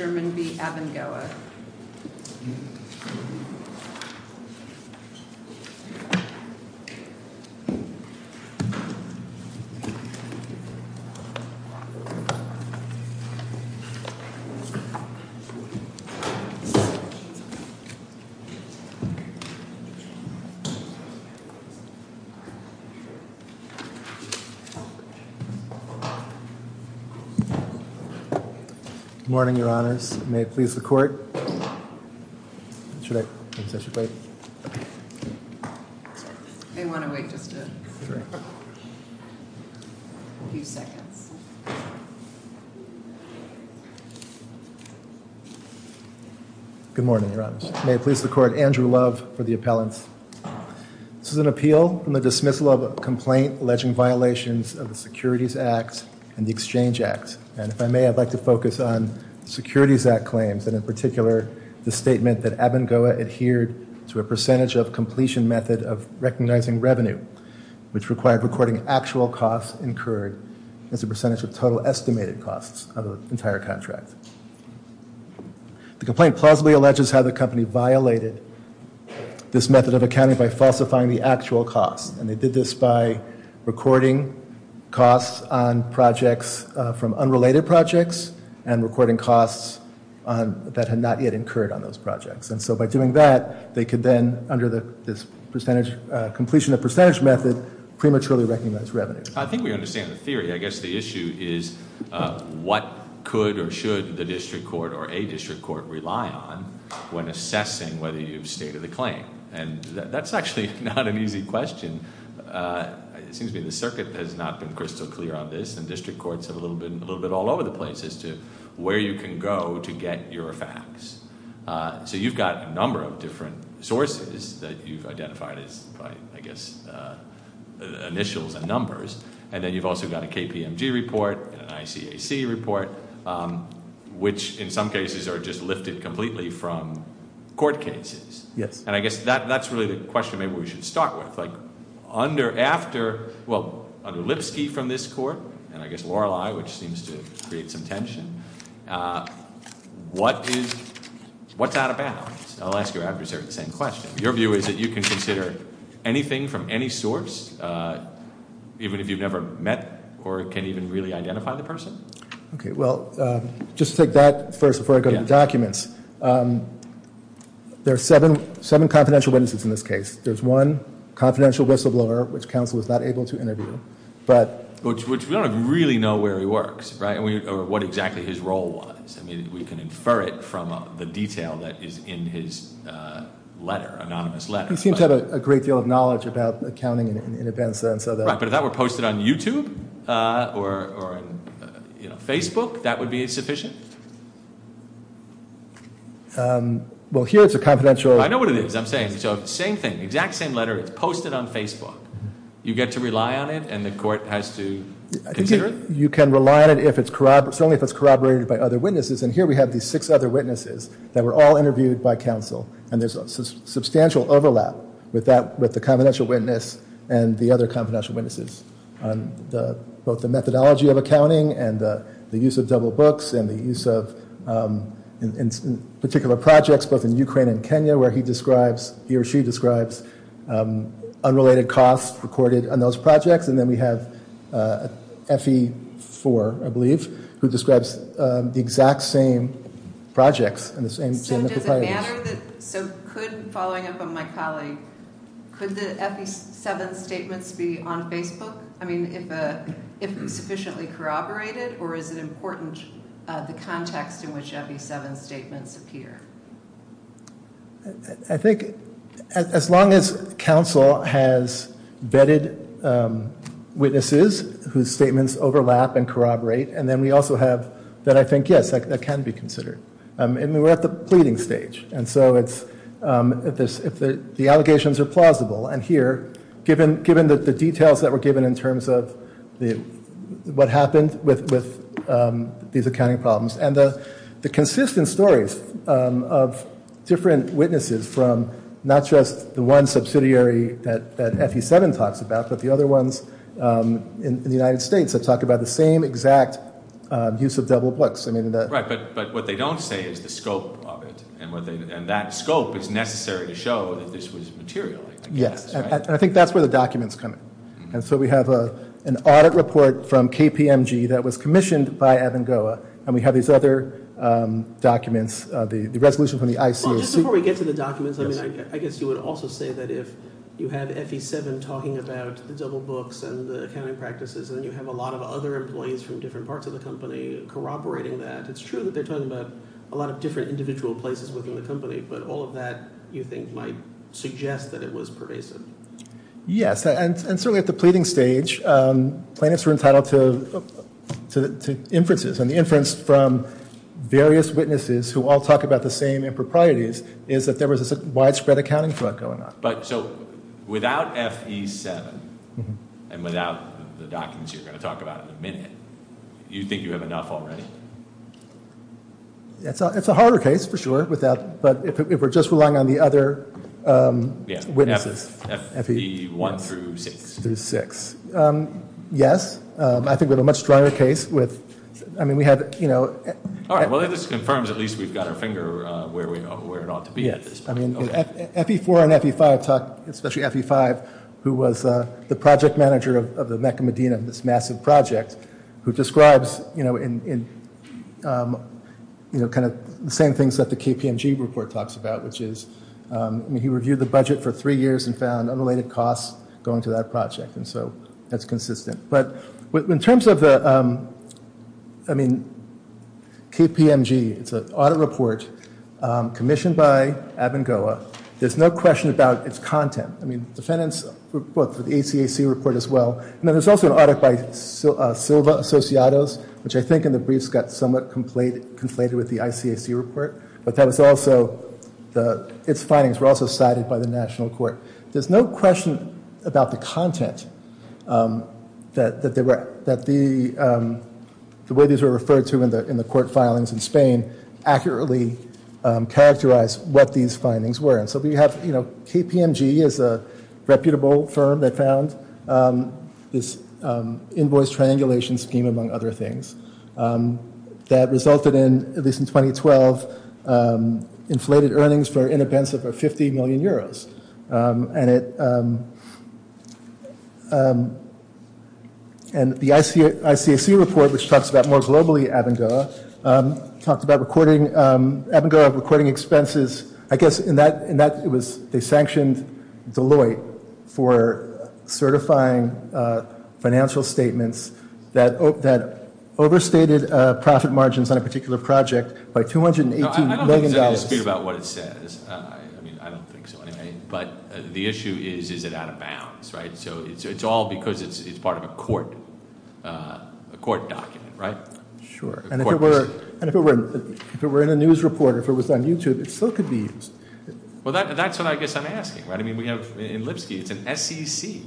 Sherman v. Abengoa Good morning, your honors. May it please the court, Andrew Love for the appellant. This is an appeal in the dismissal of a complaint alleging violations of the Securities Act and the Exchange Act. And if I may, I'd like to focus on the Securities Act claims and in particular the statement that Abengoa adhered to a percentage of completion method of recognizing revenue, which required recording actual costs incurred as a percentage of total estimated costs of the entire contract. The complaint plausibly alleges how the company violated this method of accounting by falsifying the actual costs. And they did this by recording costs on projects from unrelated projects and recording costs that had not yet incurred on those projects. And so by doing that, they could then, under this percentage completion of percentage method, prematurely recognize revenue. I think we understand the theory. I guess the issue is what could or should the district court or a district court rely on when assessing whether you've stated the claim. And that's actually not an easy question. It seems to me the circuit has not been crystal clear on this and district courts have a little bit all over the place as to where you can go to get your facts. So you've got a number of different sources that you've identified as, I guess, initials and numbers. And then you've also got a KPMG report, an ICAC report, which in some cases are just lifted completely from court cases. Yes. And I guess that's really the question maybe we should start with. Like, under, after, well, under Lipsky from this court, and I guess Lorelei, which seems to create some tension, what is, what's out of bounds? I'll ask you after the same question. Your view is that you can consider anything from any source, even if you've never met or can't even really identify the person? Okay, well, just take that first before I go to documents. There are seven confidential witnesses in this case. There's one confidential whistleblower, which counsel was not able to interview, but. Which we don't really know where he works, right, or what exactly his role was. I mean, we can infer it from the detail that is in his letter, anonymous letter. He seems to have a great deal of knowledge about accounting in advance. Right, but if that were posted on YouTube or Facebook, that would be sufficient? Well, here it's a confidential. I know what it is. I'm saying. So, same thing. Exact same letter. It's posted on Facebook. You get to rely on it, and the court has to consider it? I think you can rely on it if it's corroborated, certainly if it's corroborated by other witnesses. And here we have these six other witnesses that were all interviewed by counsel. And there's a substantial overlap with that, with the confidential witness and the other confidential witnesses. Both the methodology of accounting and the use of double books and the use of particular projects, both in Ukraine and Kenya, where he describes, he or she describes, unrelated costs recorded on those projects. And then we have FE4, I believe, who describes the exact same projects. So does it matter that, so could, following up on my colleague, could the FE7 statements be on Facebook? I mean, if sufficiently corroborated, or is it important, the context in which FE7 statements appear? I think as long as counsel has vetted witnesses whose statements overlap and corroborate, and then we also have, then I think, yes, that can be considered. I mean, we're at the pleading stage, and so it's, if the allegations are plausible. And here, given the details that were given in terms of what happened with these accounting problems, and the consistent stories of different witnesses from not just the one subsidiary that FE7 talks about, but the other ones in the United States that talk about the same exact use of double books. Right, but what they don't say is the scope of it, and that scope is necessary to show that this was material. Yes, and I think that's where the documents come in. And so we have an audit report from KPMG that was commissioned by Avangoa, and we have these other documents, the resolution from the ICOC. Well, just before we get to the documents, I mean, I guess you would also say that if you have FE7 talking about the double books and the accounting practices, then you have a lot of other employees from different parts of the company corroborating that. It's true that they're talking about a lot of different individual places within the company, but all of that, you think, might suggest that it was pervasive. Yes, and certainly at the pleading stage, plaintiffs were entitled to inferences, and the inference from various witnesses who all talk about the same improprieties is that there was a widespread accounting fraud going on. But so without FE7 and without the documents you're going to talk about in a minute, do you think you have enough already? It's a harder case, for sure, but if we're just relying on the other witnesses. FE1 through 6. Through 6. Yes, I think we have a much stronger case. All right, well, if this confirms, at least we've got our finger where it ought to be at this point. FE4 and FE5, especially FE5, who was the project manager of the Mecca Medina, this massive project, who describes the same things that the KPMG report talks about, which is he reviewed the budget for three years and found unrelated costs going to that project, and so that's consistent. But in terms of the, I mean, KPMG, it's an audit report commissioned by Abengoa. There's no question about its content. I mean, defendants for both the ACAC report as well, and then there's also an audit by Silva Associados, which I think in the briefs got somewhat conflated with the ICAC report, but that was also, its findings were also cited by the national court. There's no question about the content that the way these were referred to in the court filings in Spain accurately characterized what these findings were. And so we have, you know, KPMG is a reputable firm that found this invoice triangulation scheme, among other things, that resulted in, at least in 2012, inflated earnings for an inexpensive of 50 million euros. And it, and the ICAC report, which talks about more globally Abengoa, talked about recording, Abengoa recording expenses, I guess in that, in that it was, they sanctioned Deloitte for certifying financial statements that overstated profit margins on a particular project by $218 million. I don't think there's any dispute about what it says. I mean, I don't think so anyway. But the issue is, is it out of bounds, right? So it's all because it's part of a court, a court document, right? Sure. And if it were in a news report or if it was on YouTube, it still could be used. Well, that's what I guess I'm asking, right? I mean, we have, in Lipsky, it's an SEC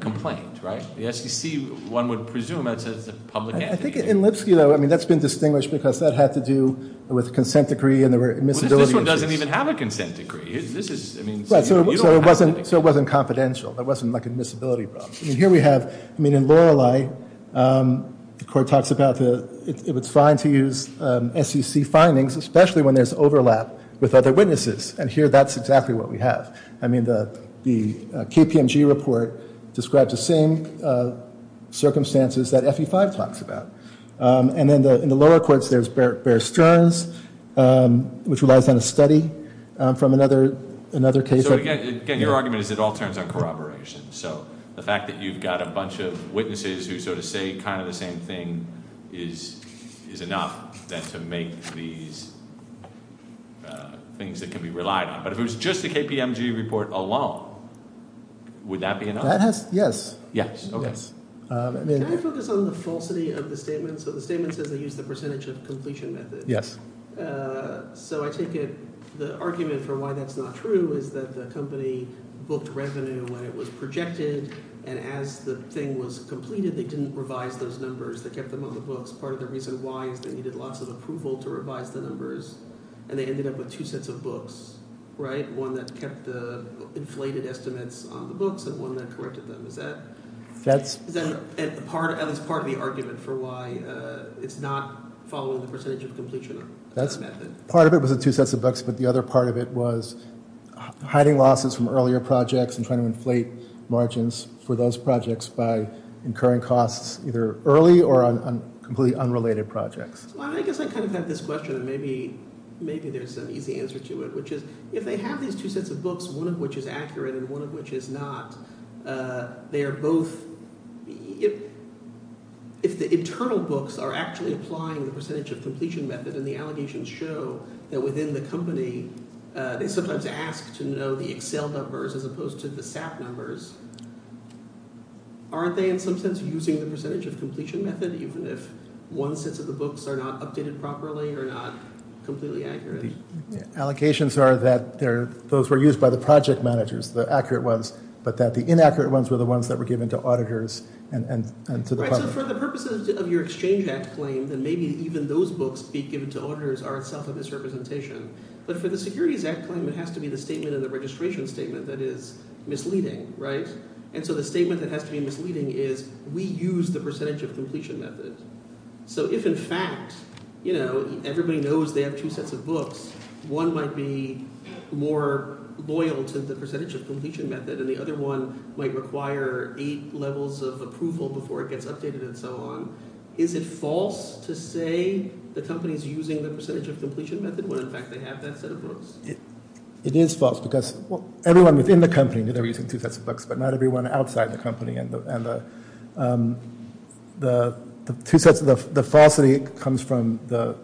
complaint, right? The SEC, one would presume that's a public entity. I think in Lipsky, though, I mean, that's been distinguished because that had to do with a consent decree and there were admissibility issues. Well, this one doesn't even have a consent decree. This is, I mean, you don't have to. Right, so it wasn't confidential. There wasn't like an admissibility problem. I mean, here we have, I mean, in Lorelei, the court talks about the, it's fine to use SEC findings, especially when there's overlap with other witnesses. And here, that's exactly what we have. I mean, the KPMG report describes the same circumstances that FE5 talks about. And in the lower courts, there's Bear Stearns, which relies on a study from another case. So, again, your argument is it all turns on corroboration. So the fact that you've got a bunch of witnesses who sort of say kind of the same thing is enough then to make these things that can be relied on. But if it was just the KPMG report alone, would that be enough? That has, yes. Yes, okay. Can I focus on the falsity of the statement? So the statement says they used the percentage of completion method. Yes. So I take it the argument for why that's not true is that the company booked revenue when it was projected, and as the thing was completed, they didn't revise those numbers. They kept them on the books. Part of the reason why is they needed lots of approval to revise the numbers, and they ended up with two sets of books, right? One that kept the inflated estimates on the books and one that corrected them. Is that part of the argument for why it's not following the percentage of completion? Part of it was the two sets of books, but the other part of it was hiding losses from earlier projects and trying to inflate margins for those projects by incurring costs either early or on completely unrelated projects. Well, I guess I kind of have this question, and maybe there's an easy answer to it, which is if they have these two sets of books, one of which is accurate and one of which is not, they are both – if the internal books are actually applying the percentage of completion method and the allegations show that within the company they sometimes ask to know the Excel numbers as opposed to the SAP numbers, aren't they in some sense using the percentage of completion method even if one set of the books are not updated properly or not completely accurate? Allocations are that those were used by the project managers, the accurate ones, but that the inaccurate ones were the ones that were given to auditors and to the public. Right, so for the purposes of your Exchange Act claim, then maybe even those books being given to auditors are itself a misrepresentation. But for the Securities Act claim, it has to be the statement in the registration statement that is misleading, right? And so the statement that has to be misleading is we use the percentage of completion method. So if in fact everybody knows they have two sets of books, one might be more loyal to the percentage of completion method and the other one might require eight levels of approval before it gets updated and so on. Is it false to say the company is using the percentage of completion method when in fact they have that set of books? It is false because everyone within the company, they were using two sets of books, but not everyone outside the company. And the falsity comes from the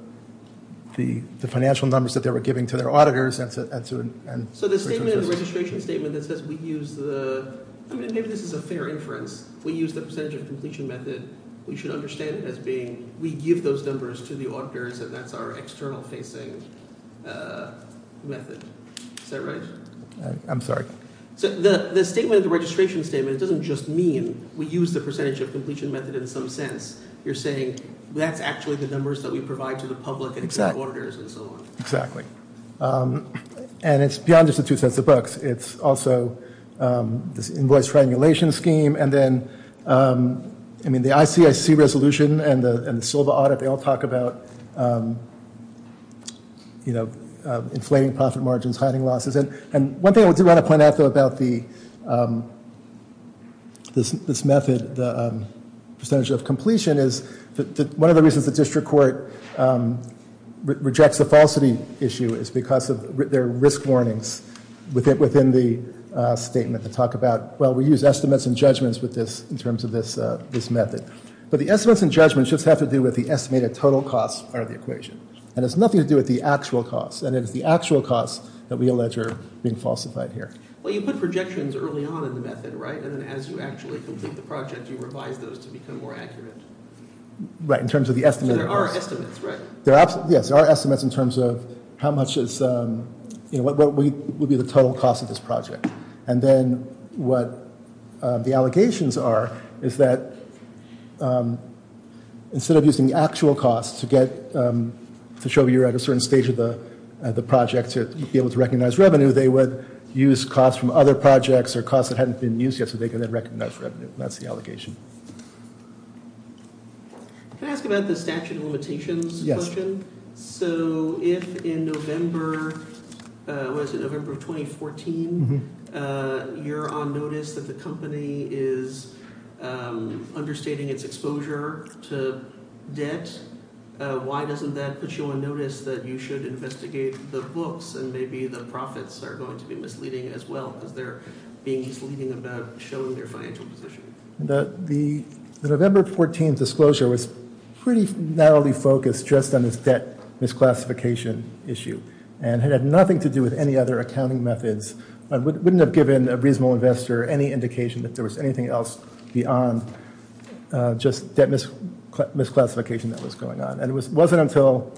financial numbers that they were giving to their auditors. So the statement in the registration statement that says we use the – maybe this is a fair inference. We use the percentage of completion method, we should understand it as being we give those numbers to the auditors and that's our external facing method. Is that right? I'm sorry. So the statement in the registration statement doesn't just mean we use the percentage of completion method in some sense. You're saying that's actually the numbers that we provide to the public and to the auditors and so on. Exactly. And it's beyond just the two sets of books. It's also this invoice triangulation scheme and then the ICIC resolution and the Silva audit, they all talk about inflating profit margins, hiding losses. And one thing I do want to point out though about this method, the percentage of completion, one of the reasons the district court rejects the falsity issue is because there are risk warnings within the statement that talk about, well, we use estimates and judgments with this in terms of this method. But the estimates and judgments just have to do with the estimated total costs part of the equation. And it has nothing to do with the actual costs. And it is the actual costs that we allege are being falsified here. Well, you put projections early on in the method, right? And then as you actually complete the project, you revise those to become more accurate. Right, in terms of the estimates. So there are estimates, right? Yes, there are estimates in terms of how much is, you know, what would be the total cost of this project. And then what the allegations are is that instead of using the actual costs to get, to show you're at a certain stage of the project to be able to recognize revenue, they would use costs from other projects or costs that hadn't been used yet so they could then recognize revenue. That's the allegation. Can I ask about the statute of limitations question? Yes. So if in November, what is it, November of 2014, you're on notice that the company is understating its exposure to debt, why doesn't that put you on notice that you should investigate the books and maybe the profits are going to be misleading as well because they're being misleading about showing their financial position? The November 14 disclosure was pretty narrowly focused just on this debt misclassification issue and had nothing to do with any other accounting methods. I wouldn't have given a reasonable investor any indication that there was anything else beyond just debt misclassification that was going on. And it wasn't until...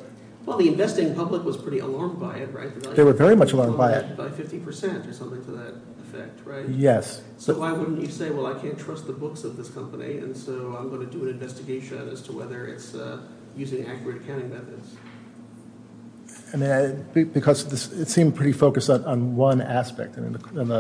Well, the investing public was pretty alarmed by it, right? They were very much alarmed by it. By 50% or something to that effect, right? Yes. So why wouldn't you say, well, I can't trust the books of this company and so I'm going to do an investigation as to whether it's using accurate accounting methods? Because it seemed pretty focused on one aspect. And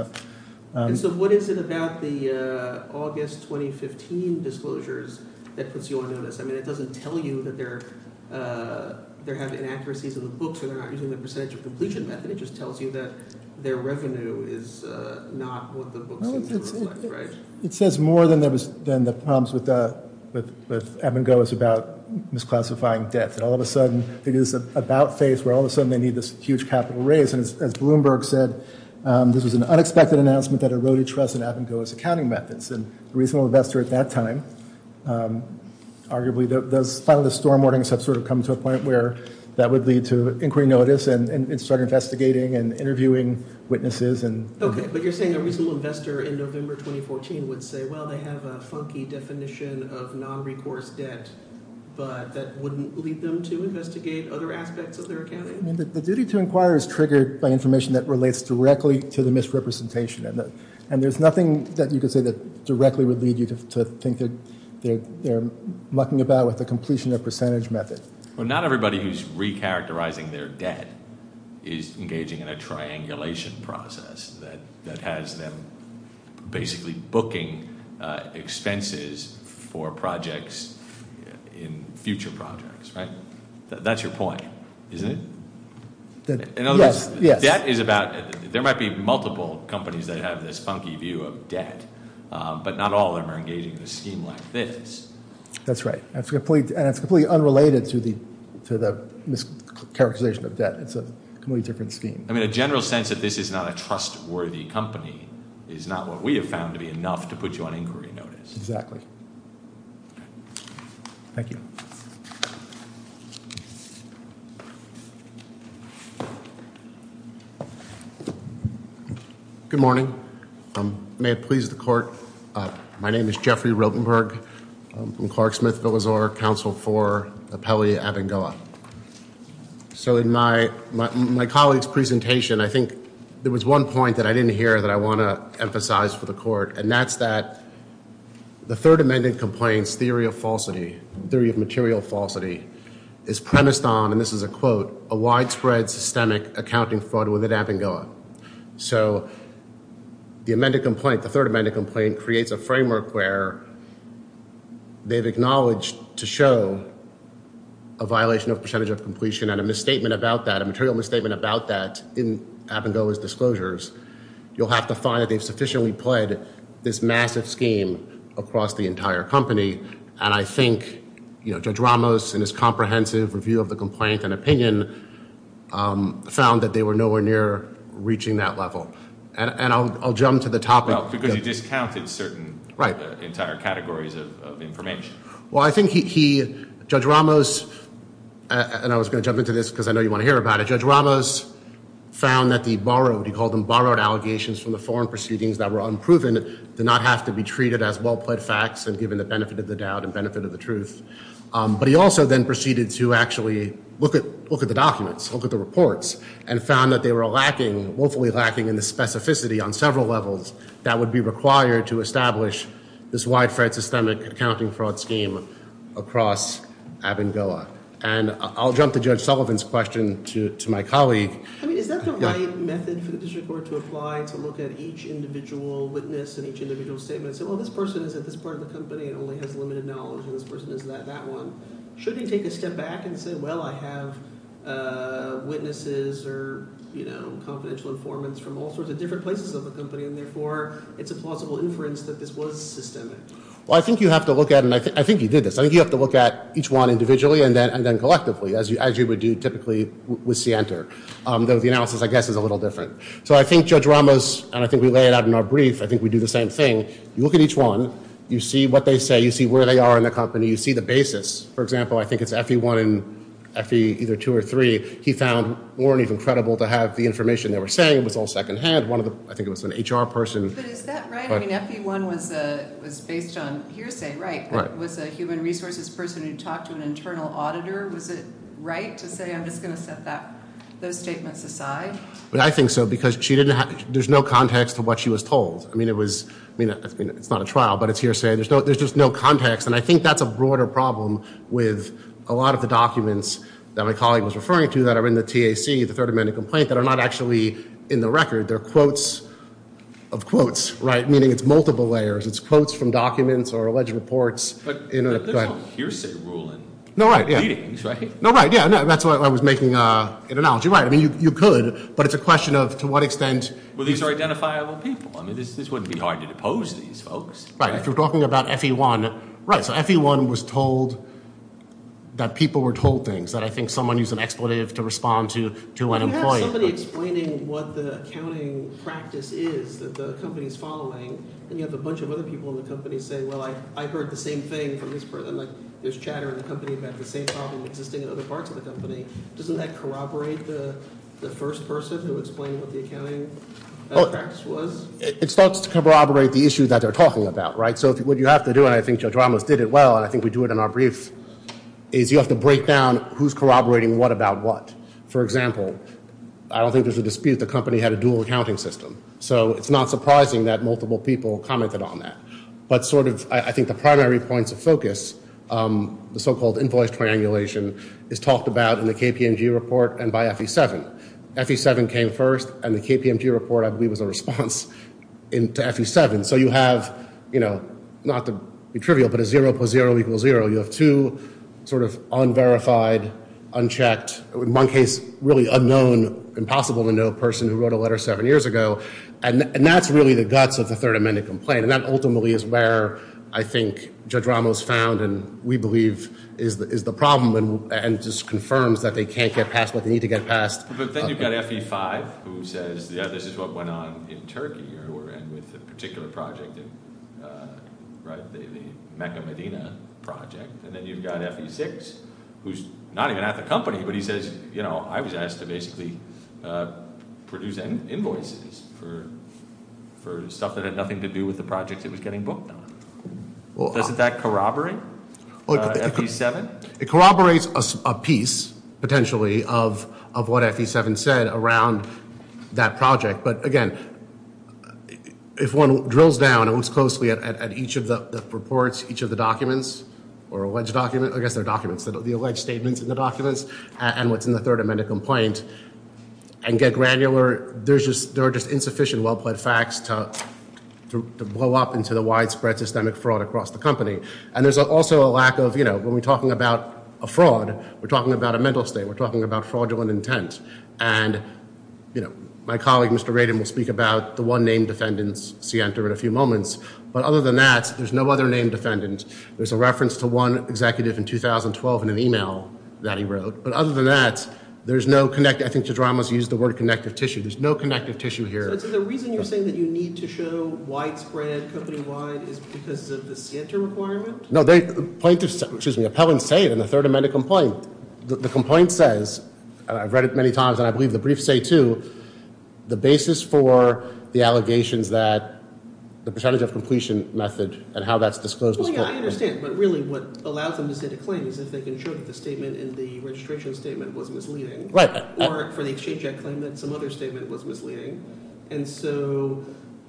so what is it about the August 2015 disclosures that puts you on notice? I mean, it doesn't tell you that they're having inaccuracies in the books or they're not using the percentage of completion method. It just tells you that their revenue is not what the books seem to reflect, right? It says more than the problems with Abengoa's about misclassifying debt. That all of a sudden it is about phase where all of a sudden they need this huge capital raise. And as Bloomberg said, this was an unexpected announcement that eroded trust in Abengoa's accounting methods. And a reasonable investor at that time, arguably those finalist storm warnings have sort of come to a point where that would lead to inquiry notice and start investigating and interviewing witnesses. Okay, but you're saying a reasonable investor in November 2014 would say, well, they have a funky definition of non-recourse debt, but that wouldn't lead them to investigate other aspects of their accounting? The duty to inquire is triggered by information that relates directly to the misrepresentation. And there's nothing that you could say that directly would lead you to think that they're mucking about with the completion of percentage method. Well, not everybody who's recharacterizing their debt is engaging in a triangulation process that has them basically booking expenses for projects in future projects, right? That's your point, isn't it? Yes, yes. In other words, debt is about, there might be multiple companies that have this funky view of debt, but not all of them are engaging in a scheme like this. That's right. And it's completely unrelated to the mischaracterization of debt. It's a completely different scheme. I mean, a general sense that this is not a trustworthy company is not what we have found to be enough to put you on inquiry notice. Exactly. Thank you. Good morning. May it please the court, my name is Jeffrey Rotenberg. I'm from Clark-Smith-Villazor, Counsel for the Pele-Avangoa. So in my colleague's presentation, I think there was one point that I didn't hear that I want to emphasize for the court, and that's that the Third Amendment complaint's theory of falsity, theory of material falsity, is premised on, and this is a quote, a widespread systemic accounting fraud within Avangoa. So the amended complaint, the Third Amendment complaint, creates a framework where they've acknowledged to show a violation of percentage of completion and a misstatement about that, a material misstatement about that in Avangoa's disclosures. You'll have to find that they've sufficiently played this massive scheme across the entire company, and I think Judge Ramos in his comprehensive review of the complaint and opinion found that they were nowhere near reaching that level. And I'll jump to the topic. Because he discounted certain entire categories of information. Well, I think he, Judge Ramos, and I was going to jump into this because I know you want to hear about it, Judge Ramos found that the borrowed, he called them borrowed allegations from the foreign proceedings that were unproven did not have to be treated as well-plaid facts and given the benefit of the doubt and benefit of the truth. But he also then proceeded to actually look at the documents, look at the reports, and found that they were lacking, woefully lacking in the specificity on several levels that would be required to establish this widespread systemic accounting fraud scheme across Avangoa. And I'll jump to Judge Sullivan's question to my colleague. I mean, is that the right method for the district court to apply to look at each individual witness and each individual statement and say, well, this person is at this part of the company and only has limited knowledge and this person is at that one? Should he take a step back and say, well, I have witnesses or, you know, confidential informants from all sorts of different places of the company and therefore it's a plausible inference that this was systemic? Well, I think you have to look at it, and I think you did this. I think you have to look at each one individually and then collectively as you would do typically with Sienta, though the analysis, I guess, is a little different. So I think Judge Ramos, and I think we lay it out in our brief, I think we do the same thing. You look at each one. You see what they say. You see where they are in the company. You see the basis. For example, I think it's FE1 and FE either 2 or 3. He found more than even credible to have the information they were saying. It was all secondhand. I think it was an HR person. But is that right? I mean, FE1 was based on hearsay, right, but it was a human resources person who talked to an internal auditor. Was it right to say I'm just going to set those statements aside? I think so because there's no context to what she was told. I mean, it's not a trial, but it's hearsay. There's just no context, and I think that's a broader problem with a lot of the documents that my colleague was referring to that are in the TAC, the Third Amendment Complaint, that are not actually in the record. They're quotes of quotes, right, meaning it's multiple layers. It's quotes from documents or alleged reports. But there's no hearsay rule in meetings, right? No, right, yeah. That's why I was making an analogy. Right, I mean, you could, but it's a question of to what extent. Well, these are identifiable people. I mean, this wouldn't be hard to depose these folks. Right, if you're talking about FE1, right, so FE1 was told that people were told things, that I think someone used an expletive to respond to an employee. If you have somebody explaining what the accounting practice is that the company is following, and you have a bunch of other people in the company say, well, I heard the same thing from this person, like there's chatter in the company about the same problem existing in other parts of the company, doesn't that corroborate the first person who explained what the accounting practice was? It starts to corroborate the issue that they're talking about, right? So what you have to do, and I think Joe Dromas did it well, and I think we do it in our brief, is you have to break down who's corroborating what about what. For example, I don't think there's a dispute the company had a dual accounting system. So it's not surprising that multiple people commented on that. But sort of I think the primary points of focus, the so-called invoice triangulation, is talked about in the KPMG report and by FE7. FE7 came first, and the KPMG report, I believe, was a response to FE7. So you have, not to be trivial, but a 0 plus 0 equals 0. You have two sort of unverified, unchecked, in one case really unknown, impossible to know, person who wrote a letter seven years ago. And that's really the guts of the Third Amendment complaint, and that ultimately is where I think Judge Ramos found and we believe is the problem and just confirms that they can't get past what they need to get past. But then you've got FE5 who says, yeah, this is what went on in Turkey and with a particular project, the Mecca Medina project. And then you've got FE6, who's not even at the company, but he says, you know, I was asked to basically produce invoices for stuff that had nothing to do with the project it was getting booked on. Doesn't that corroborate FE7? It corroborates a piece, potentially, of what FE7 said around that project. But, again, if one drills down and looks closely at each of the reports, each of the documents or alleged documents, I guess they're documents, the alleged statements in the documents and what's in the Third Amendment complaint and get granular, there are just insufficient well-plaid facts to blow up into the widespread systemic fraud across the company. And there's also a lack of, you know, when we're talking about a fraud, we're talking about a mental state. We're talking about fraudulent intent. And, you know, my colleague, Mr. Radin, will speak about the one named defendants, Sienta, in a few moments. But other than that, there's no other named defendants. There's a reference to one executive in 2012 in an e-mail that he wrote. But other than that, there's no – I think Jadramus used the word connective tissue. There's no connective tissue here. So the reason you're saying that you need to show widespread company-wide is because of the Sienta requirement? No, plaintiffs – excuse me, appellants say it in the Third Amendment complaint. The complaint says – I've read it many times, and I believe the briefs say too – the basis for the allegations that the percentage of completion method and how that's disclosed is – Well, yeah, I understand. But really what allows them to set a claim is if they can show that the statement in the registration statement was misleading. Right. Or for the Exchange Act claim that some other statement was misleading. And so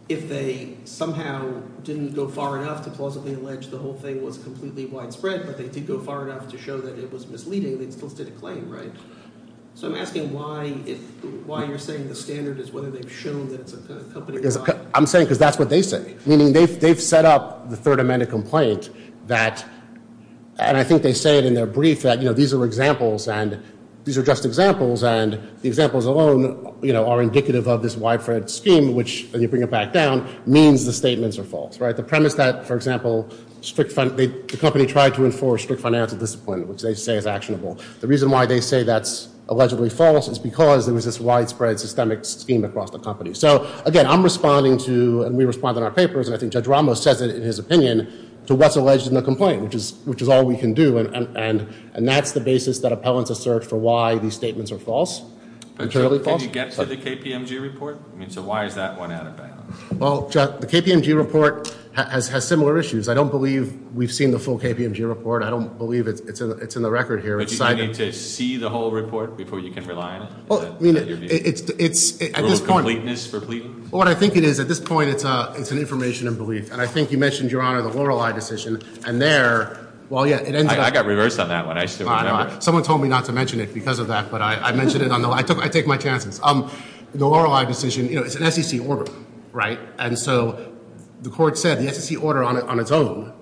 if they somehow didn't go far enough to plausibly allege the whole thing was completely widespread, but they did go far enough to show that it was misleading, they still stood a claim, right? So I'm asking why you're saying the standard is whether they've shown that it's a company-wide – I'm saying because that's what they say. Meaning they've set up the Third Amendment complaint that – and I think they say it in their brief that these are examples and these are just examples, and the examples alone are indicative of this widespread scheme, which, when you bring it back down, means the statements are false. Right? The premise that, for example, the company tried to enforce strict financial discipline, which they say is actionable. The reason why they say that's allegedly false is because there was this widespread systemic scheme across the company. So, again, I'm responding to, and we respond in our papers, and I think Judge Ramos says it in his opinion, to what's alleged in the complaint, which is all we can do. And that's the basis that appellants assert for why these statements are false, entirely false. Did you get to the KPMG report? I mean, so why is that one out of bounds? Well, the KPMG report has similar issues. I don't believe we've seen the full KPMG report. I don't believe it's in the record here. But do you need to see the whole report before you can rely on it? I mean, it's – Rules of completeness for pleadings? Well, what I think it is, at this point, it's an information in belief. And I think you mentioned, Your Honor, the Lorelei decision, and there – I got reversed on that one. I still remember. Someone told me not to mention it because of that, but I mentioned it. I take my chances. The Lorelei decision, you know, it's an SEC order, right? And so the court said the SEC order on its own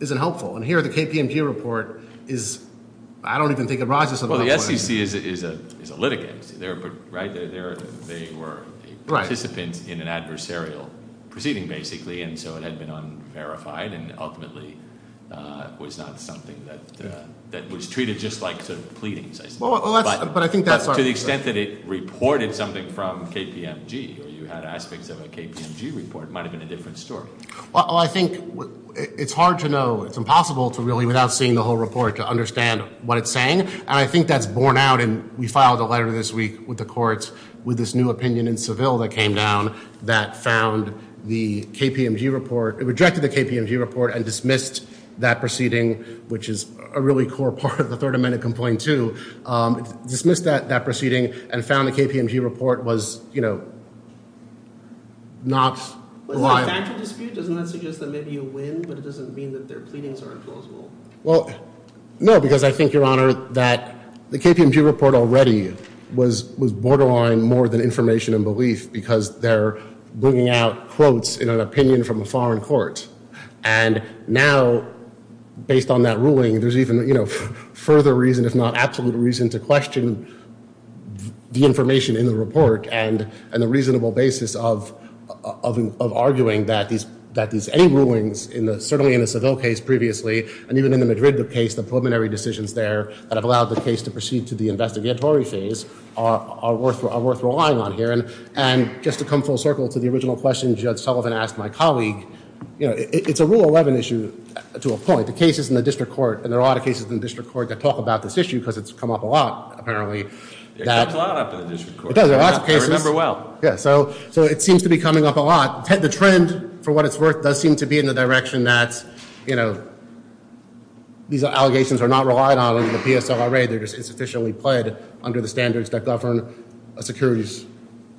isn't helpful. And here the KPMG report is – I don't even think it rises to that point. Well, the SEC is a litigant, right? They were participants in an adversarial proceeding, basically, and so it had been unverified and ultimately was not something that was treated just like sort of pleadings. But to the extent that it reported something from KPMG, or you had aspects of a KPMG report, it might have been a different story. Well, I think it's hard to know. It's impossible to really, without seeing the whole report, to understand what it's saying. And I think that's borne out, and we filed a letter this week with the courts with this new opinion in Seville that came down that found the KPMG report – it rejected the KPMG report and dismissed that proceeding, which is a really core part of the Third Amendment complaint too. It dismissed that proceeding and found the KPMG report was, you know, not reliable. But is that a factual dispute? Doesn't that suggest that maybe you win, but it doesn't mean that their pleadings are implausible? Well, no, because I think, Your Honor, that the KPMG report already was borderline more than information and belief because they're bringing out quotes in an opinion from a foreign court. And now, based on that ruling, there's even further reason, if not absolute reason, to question the information in the report and the reasonable basis of arguing that any rulings, certainly in the Seville case previously, and even in the Madrid case, the preliminary decisions there that have allowed the case to proceed to the investigatory phase, are worth relying on here. And just to come full circle to the original question Judge Sullivan asked my colleague, you know, it's a Rule 11 issue to a point. The case is in the district court, and there are a lot of cases in the district court that talk about this issue because it's come up a lot, apparently. It comes a lot up in the district court. I remember well. Yeah, so it seems to be coming up a lot. The trend, for what it's worth, does seem to be in the direction that, you know, these allegations are not relied on in the PSLRA. They're just insufficiently played under the standards that govern a securities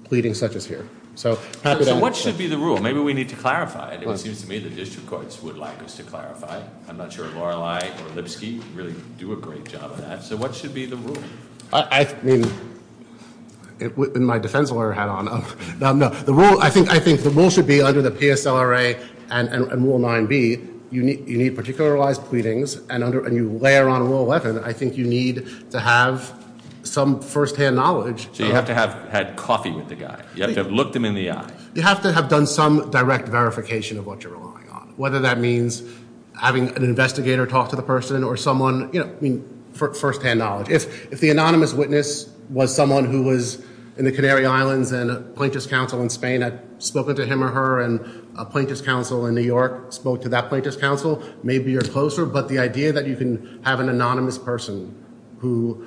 pleading such as here. So what should be the rule? Maybe we need to clarify it. It seems to me the district courts would like us to clarify. I'm not sure Lorelei or Lipsky really do a great job of that. So what should be the rule? I mean, and my defense lawyer hat on. I think the rule should be under the PSLRA and Rule 9b, you need particularized pleadings, and you layer on Rule 11, I think you need to have some firsthand knowledge. So you have to have had coffee with the guy. You have to have looked him in the eye. You have to have done some direct verification of what you're relying on, whether that means having an investigator talk to the person or someone, you know, firsthand knowledge. If the anonymous witness was someone who was in the Canary Islands and a plaintiff's counsel in Spain, I've spoken to him or her, and a plaintiff's counsel in New York spoke to that plaintiff's counsel, maybe you're closer, but the idea that you can have an anonymous person who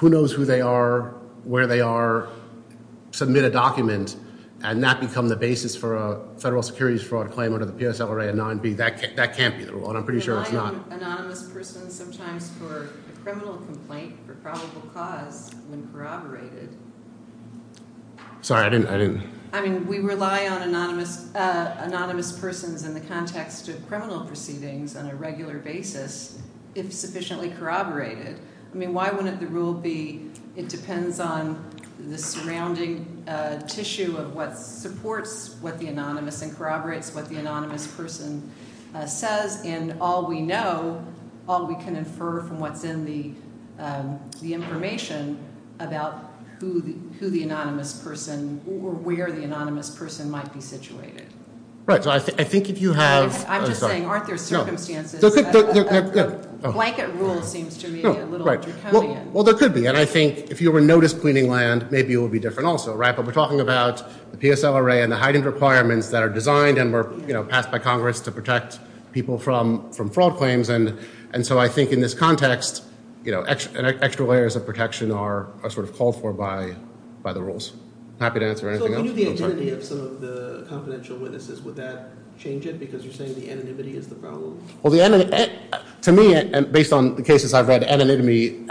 knows who they are, where they are, submit a document, and that become the basis for a federal securities fraud claim under the PSLRA and 9b, that can't be the rule, and I'm pretty sure it's not. We rely on anonymous persons sometimes for a criminal complaint for probable cause when corroborated. Sorry, I didn't. I mean, we rely on anonymous persons in the context of criminal proceedings on a regular basis if sufficiently corroborated. I mean, why wouldn't the rule be it depends on the surrounding tissue of what supports what the anonymous and corroborates what the anonymous person says, and all we know, all we can infer from what's in the information about who the anonymous person or where the anonymous person might be situated. Right, so I think if you have- I'm just saying, aren't there circumstances- Yeah. Blanket rule seems to me a little draconian. Well, there could be, and I think if you were noticed cleaning land, maybe it would be different also, right? But we're talking about the PSLRA and the heightened requirements that are designed and were passed by Congress to protect people from fraud claims, and so I think in this context, extra layers of protection are sort of called for by the rules. Happy to answer anything else. Can you do the identity of some of the confidential witnesses? Would that change it because you're saying the anonymity is the problem? Well, to me, based on the cases I've read, anonymity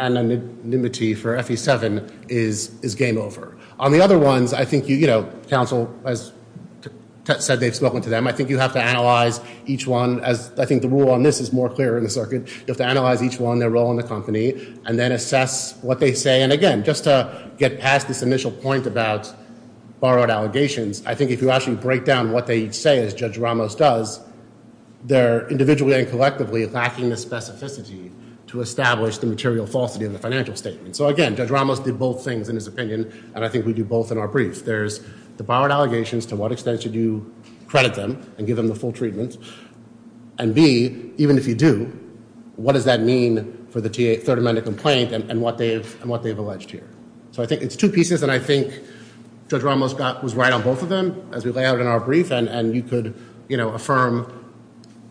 for FE7 is game over. On the other ones, I think, you know, counsel has said they've spoken to them. I think you have to analyze each one. I think the rule on this is more clear in the circuit. You have to analyze each one, their role in the company, and then assess what they say. And again, just to get past this initial point about borrowed allegations, I think if you actually break down what they say, as Judge Ramos does, they're individually and collectively lacking the specificity to establish the material falsity of the financial statement. So again, Judge Ramos did both things in his opinion, and I think we do both in our brief. There's the borrowed allegations, to what extent should you credit them and give them the full treatment? And B, even if you do, what does that mean for the third amendment complaint and what they've alleged here? So I think it's two pieces, and I think Judge Ramos was right on both of them, as we lay out in our brief, and you could, you know, affirm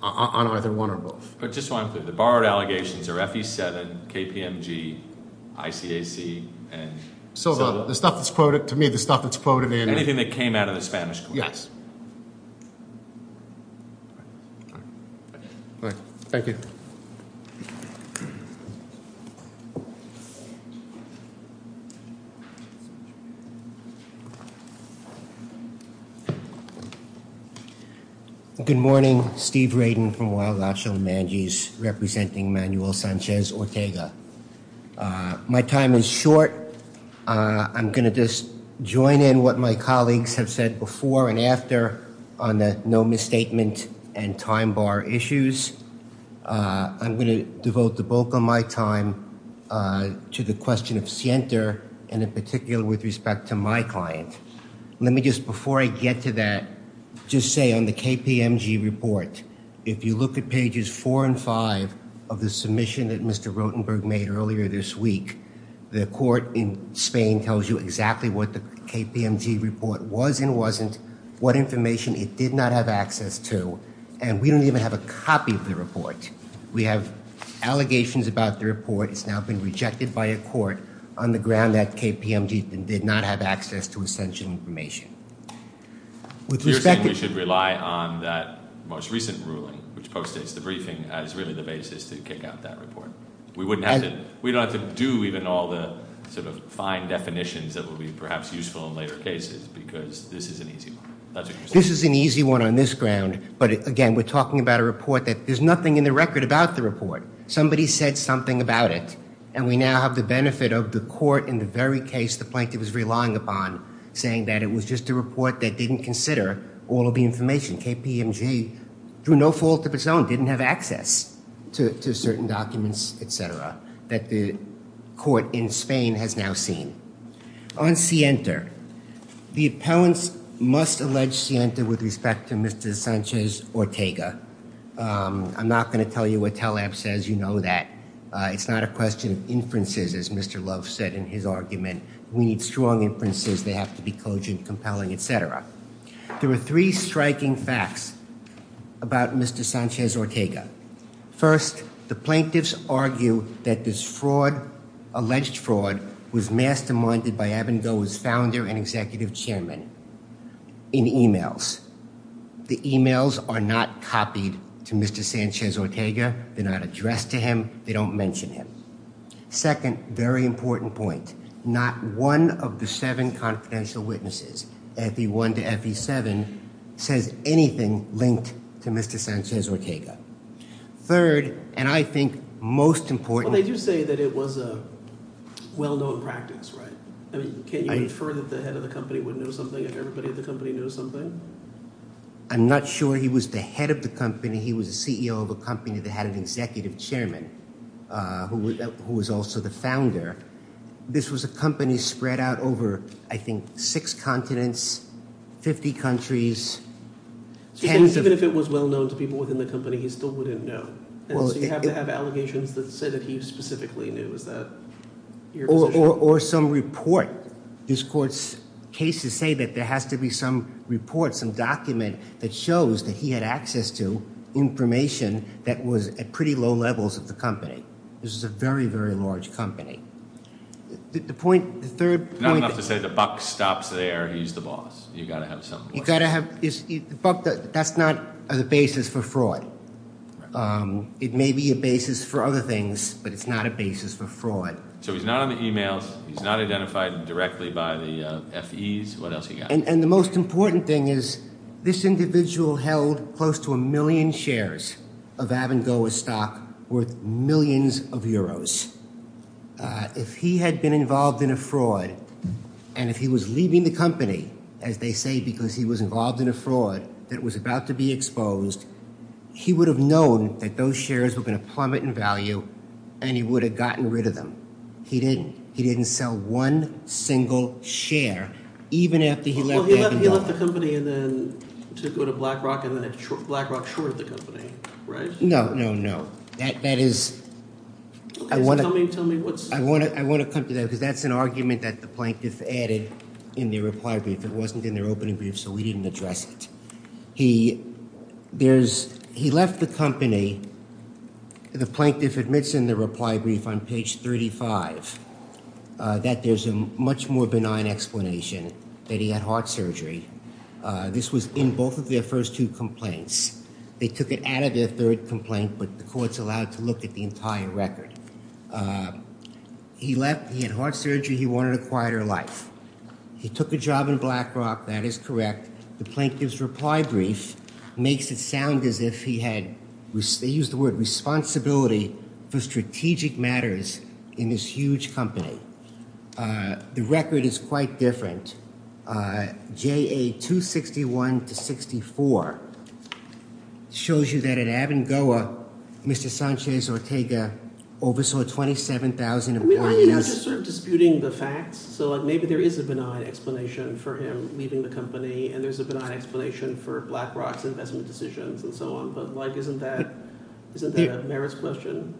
on either one or both. But just so I'm clear, the borrowed allegations are FE7, KPMG, ICAC, and- So the stuff that's quoted, to me, the stuff that's quoted in- Anything that came out of the Spanish complaints. Yes. Thank you. Thank you. Good morning. Steve Radin from Waelach and Manjis, representing Manuel Sanchez Ortega. My time is short. I'm going to just join in what my colleagues have said before and after on the no misstatement and time bar issues. I'm going to devote the bulk of my time to the question of Sienter, and in particular with respect to my client. Let me just, before I get to that, just say on the KPMG report, if you look at pages four and five of the submission that Mr. Rotenberg made earlier this week, the court in Spain tells you exactly what the KPMG report was and wasn't, what information it did not have access to, and we don't even have a copy of the report. We have allegations about the report. It's now been rejected by a court on the ground that KPMG did not have access to essential information. With respect to- You're saying we should rely on that most recent ruling, which postdates the briefing, as really the basis to kick out that report. We don't have to do even all the sort of fine definitions that will be perhaps useful in later cases because this is an easy one. That's what you're saying. This is an easy one on this ground, but again, we're talking about a report that there's nothing in the record about the report. Somebody said something about it, and we now have the benefit of the court in the very case the plaintiff is relying upon saying that it was just a report that didn't consider all of the information. KPMG, through no fault of its own, didn't have access to certain documents, et cetera, that the court in Spain has now seen. On Sienta, the appellants must allege Sienta with respect to Mr. Sanchez Ortega. I'm not going to tell you what TELAPP says. You know that. It's not a question of inferences, as Mr. Love said in his argument. We need strong inferences. They have to be cogent, compelling, et cetera. There are three striking facts about Mr. Sanchez Ortega. First, the plaintiffs argue that this fraud, alleged fraud, was masterminded by Abengoa's founder and executive chairman in e-mails. The e-mails are not copied to Mr. Sanchez Ortega. They're not addressed to him. They don't mention him. Second, very important point, not one of the seven confidential witnesses, FE1 to FE7, says anything linked to Mr. Sanchez Ortega. Third, and I think most important— Well, they do say that it was a well-known practice, right? I mean, can you infer that the head of the company would know something if everybody at the company knew something? I'm not sure he was the head of the company. He was the CEO of a company that had an executive chairman who was also the founder. This was a company spread out over, I think, six continents, 50 countries, tens of— So even if it was well-known to people within the company, he still wouldn't know? And so you have to have allegations that say that he specifically knew. Is that your position? Or some report. These courts' cases say that there has to be some report, some document that shows that he had access to information that was at pretty low levels of the company. This was a very, very large company. The third point— Not enough to say the buck stops there. He's the boss. You've got to have some— You've got to have— That's not the basis for fraud. It may be a basis for other things, but it's not a basis for fraud. So he's not on the e-mails. He's not identified directly by the FEs. What else have you got? And the most important thing is this individual held close to a million shares of Avangoa stock worth millions of euros. If he had been involved in a fraud and if he was leaving the company, as they say, because he was involved in a fraud that was about to be exposed, he would have known that those shares were going to plummet in value, and he would have gotten rid of them. He didn't. He didn't sell one single share even after he left Avangoa. Well, he left the company and then took over to BlackRock, and then BlackRock shorted the company, right? No, no, no. That is— Okay, so tell me what's— I want to come to that because that's an argument that the plaintiff added in their reply brief. It wasn't in their opening brief, so we didn't address it. He left the company. The plaintiff admits in the reply brief on page 35 that there's a much more benign explanation, that he had heart surgery. This was in both of their first two complaints. They took it out of their third complaint, but the court's allowed to look at the entire record. He left. He had heart surgery. He wanted a quieter life. He took a job in BlackRock. That is correct. The plaintiff's reply brief makes it sound as if he had—they used the word responsibility for strategic matters in this huge company. The record is quite different. JA-261-64 shows you that at Avangoa, Mr. Sanchez Ortega oversaw 27,000 employees. I mean, aren't you just sort of disputing the facts? So, like, maybe there is a benign explanation for him leaving the company, and there's a benign explanation for BlackRock's investment decisions and so on. But, like, isn't that a merits question?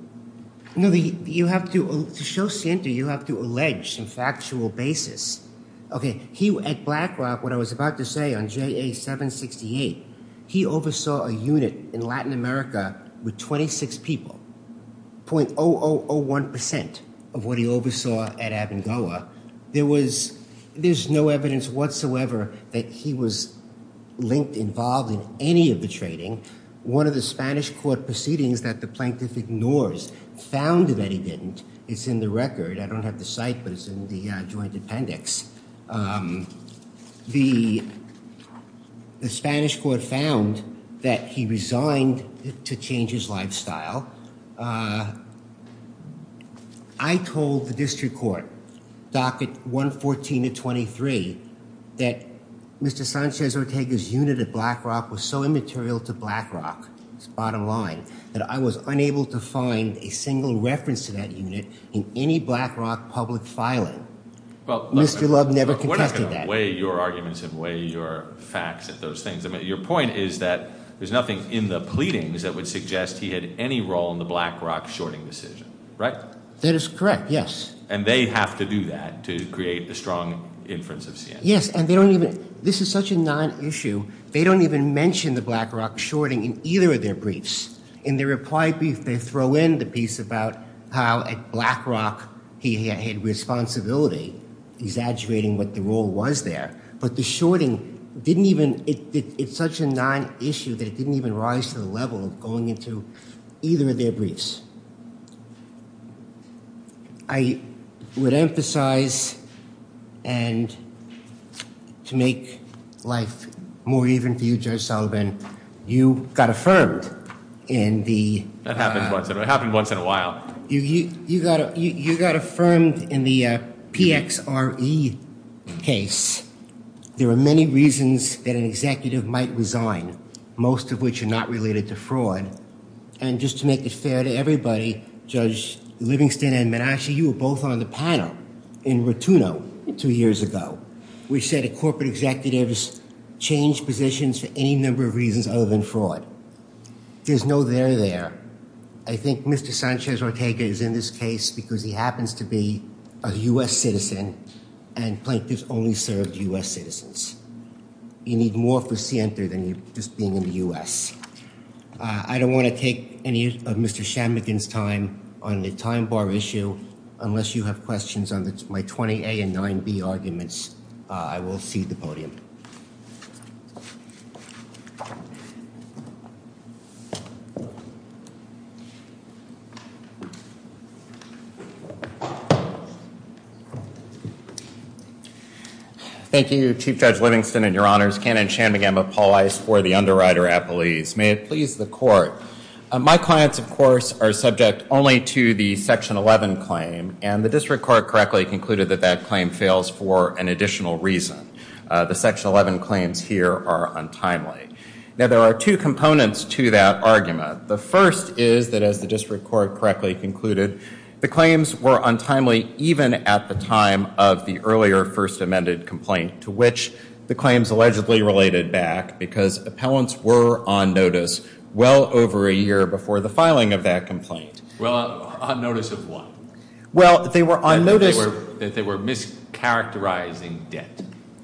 No, you have to—to show scienti, you have to allege some factual basis. Okay, he—at BlackRock, what I was about to say on JA-768, he oversaw a unit in Latin America with 26 people, 0.0001 percent of what he oversaw at Avangoa. There was—there's no evidence whatsoever that he was linked, involved in any of the trading. One of the Spanish court proceedings that the plaintiff ignores found that he didn't. It's in the record. I don't have the site, but it's in the joint appendix. The Spanish court found that he resigned to change his lifestyle. I told the district court, docket 114 to 23, that Mr. Sanchez Ortega's unit at BlackRock was so immaterial to BlackRock, his bottom line, that I was unable to find a single reference to that unit in any BlackRock public filing. Mr. Love never contested that. We're not going to weigh your arguments and weigh your facts at those things. Your point is that there's nothing in the pleadings that would suggest he had any role in the BlackRock shorting decision, right? That is correct, yes. And they have to do that to create a strong inference of Sanchez. Yes, and they don't even—this is such a non-issue, they don't even mention the BlackRock shorting in either of their briefs. In their reply brief, they throw in the piece about how at BlackRock he had responsibility, exaggerating what the role was there. But the shorting didn't even—it's such a non-issue that it didn't even rise to the level of going into either of their briefs. I would emphasize, and to make life more even for you, Judge Sullivan, you got affirmed in the— That happens once in a while. You got affirmed in the PXRE case. There are many reasons that an executive might resign, most of which are not related to fraud. And just to make it fair to everybody, Judge Livingston and Menasche, you were both on the panel in Rotuno two years ago, which said that corporate executives change positions for any number of reasons other than fraud. There's no there there. I think Mr. Sanchez-Ortega is in this case because he happens to be a U.S. citizen, and plaintiffs only serve U.S. citizens. You need more for Sienta than just being in the U.S. I don't want to take any of Mr. Shammugin's time on the time bar issue. Unless you have questions on my 20A and 9B arguments, I will cede the podium. Thank you. Thank you, Chief Judge Livingston and Your Honors. Ken and Shanmugam of Paul Ice for the underwriter appellees. May it please the court. My clients, of course, are subject only to the Section 11 claim, and the district court correctly concluded that that claim fails for an additional reason. The Section 11 claims here are untimely. Now, there are two components to that argument. The first is that, as the district court correctly concluded, the claims were untimely even at the time of the earlier first amended complaint, to which the claims allegedly related back because appellants were on notice well over a year before the filing of that complaint. Well, on notice of what? Well, they were on notice that they were mischaracterizing debt.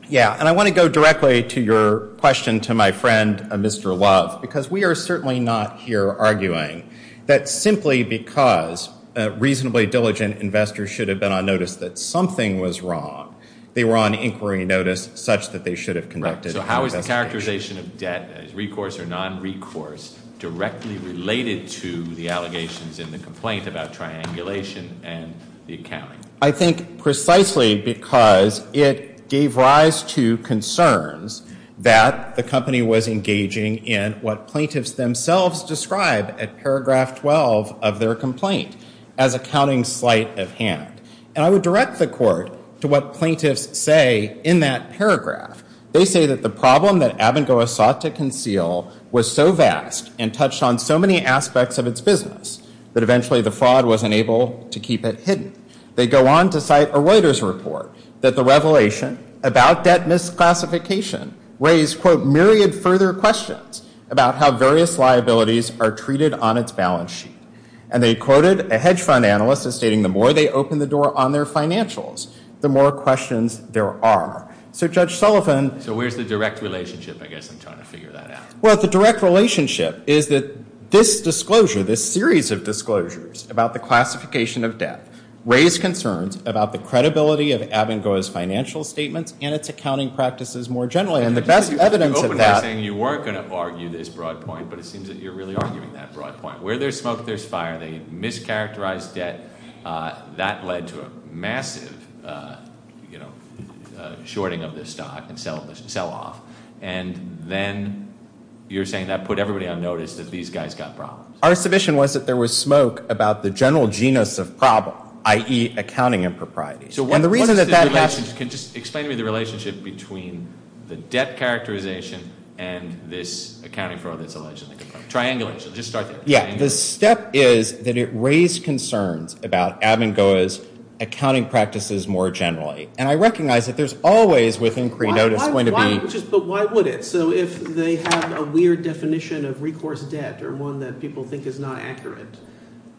Yeah, and I want to go directly to your question to my friend, Mr. Love, because we are certainly not here arguing that simply because reasonably diligent investors should have been on notice that something was wrong, they were on inquiry notice such that they should have conducted an investigation. So how is the characterization of debt, recourse or nonrecourse, directly related to the allegations in the complaint about triangulation and the accounting? I think precisely because it gave rise to concerns that the company was engaging in what plaintiffs themselves describe at paragraph 12 of their complaint as accounting slight of hand. And I would direct the court to what plaintiffs say in that paragraph. They say that the problem that Abengoa sought to conceal was so vast and touched on so many aspects of its business that eventually the fraud was unable to keep it hidden. They go on to cite a Reuters report that the revelation about debt misclassification raised, quote, myriad further questions about how various liabilities are treated on its balance sheet. And they quoted a hedge fund analyst as stating the more they open the door on their financials, the more questions there are. So, Judge Sullivan. So where's the direct relationship? I guess I'm trying to figure that out. Well, the direct relationship is that this disclosure, this series of disclosures about the classification of debt raise concerns about the credibility of Abengoa's financial statements and its accounting practices more generally. And the best evidence of that. You were going to argue this broad point, but it seems that you're really arguing that broad point. Where there's smoke, there's fire. They mischaracterized debt. That led to a massive, you know, shorting of the stock and sell-off. And then you're saying that put everybody on notice that these guys got problems. Our submission was that there was smoke about the general genus of problem, i.e., accounting impropriety. And the reason that that happened. Explain to me the relationship between the debt characterization and this accounting fraud that's alleged. Triangulation. Just start there. Yeah. The step is that it raised concerns about Abengoa's accounting practices more generally. And I recognize that there's always within creed notice going to be. But why would it? Okay. So if they have a weird definition of recourse debt or one that people think is not accurate,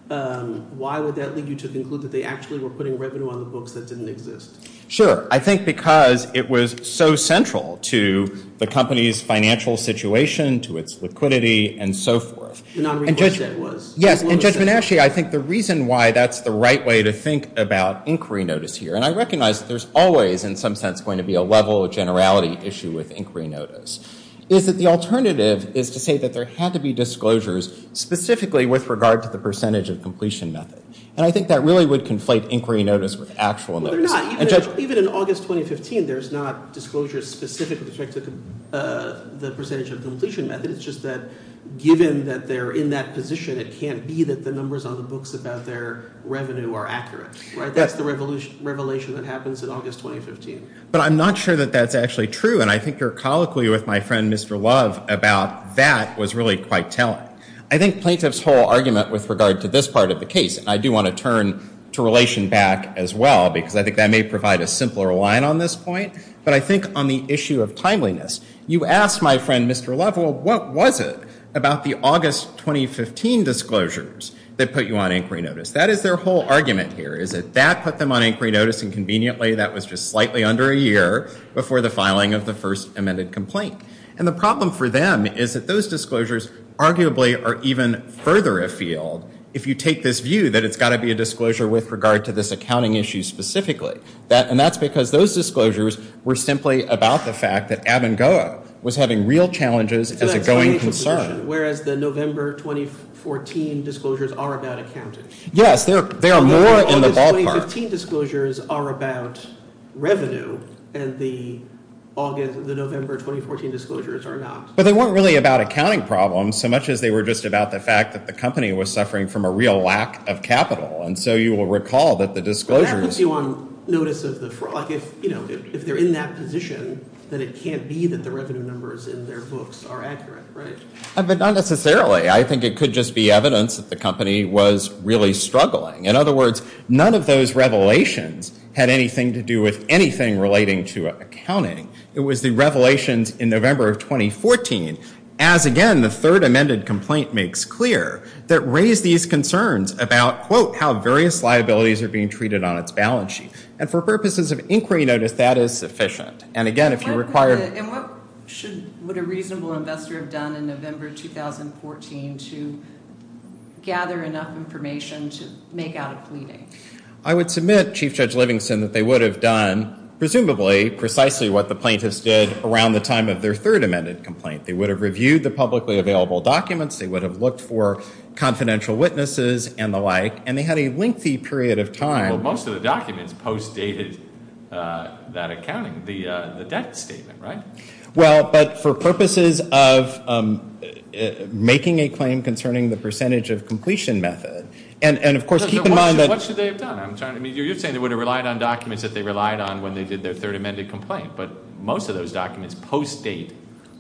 why would that lead you to conclude that they actually were putting revenue on the books that didn't exist? Sure. I think because it was so central to the company's financial situation, to its liquidity, and so forth. The non-recourse debt was. Yes. And Judge Benashia, I think the reason why that's the right way to think about inquiry notice here. And I recognize that there's always in some sense going to be a level of generality issue with inquiry notice. Is that the alternative is to say that there had to be disclosures specifically with regard to the percentage of completion method. And I think that really would conflate inquiry notice with actual notice. Well, they're not. Even in August 2015, there's not disclosures specific to the percentage of completion method. It's just that given that they're in that position, it can't be that the numbers on the books about their revenue are accurate. That's the revelation that happens in August 2015. But I'm not sure that that's actually true. And I think your colloquy with my friend Mr. Love about that was really quite telling. I think plaintiff's whole argument with regard to this part of the case, and I do want to turn to relation back as well because I think that may provide a simpler line on this point. But I think on the issue of timeliness, you asked my friend Mr. Love, well, what was it about the August 2015 disclosures that put you on inquiry notice? That is their whole argument here is that that put them on inquiry notice, and conveniently that was just slightly under a year before the filing of the first amended complaint. And the problem for them is that those disclosures arguably are even further afield if you take this view that it's got to be a disclosure with regard to this accounting issue specifically. And that's because those disclosures were simply about the fact that Abengoa was having real challenges as a going concern. Whereas the November 2014 disclosures are about accounting. Yes, there are more in the ballpark. The August 2015 disclosures are about revenue, and the November 2014 disclosures are not. But they weren't really about accounting problems so much as they were just about the fact that the company was suffering from a real lack of capital. And so you will recall that the disclosures – That puts you on notice of the fraud. If they're in that position, then it can't be that the revenue numbers in their books are accurate, right? But not necessarily. I think it could just be evidence that the company was really struggling. In other words, none of those revelations had anything to do with anything relating to accounting. It was the revelations in November of 2014, as again the third amended complaint makes clear, that raised these concerns about, quote, how various liabilities are being treated on its balance sheet. And for purposes of inquiry notice, that is sufficient. And what would a reasonable investor have done in November 2014 to gather enough information to make out a pleading? I would submit, Chief Judge Livingston, that they would have done, presumably, precisely what the plaintiffs did around the time of their third amended complaint. They would have reviewed the publicly available documents. They would have looked for confidential witnesses and the like. And they had a lengthy period of time. Well, most of the documents post dated that accounting. The debt statement, right? Well, but for purposes of making a claim concerning the percentage of completion method. And, of course, keep in mind that. What should they have done? You're saying they would have relied on documents that they relied on when they did their third amended complaint. But most of those documents post date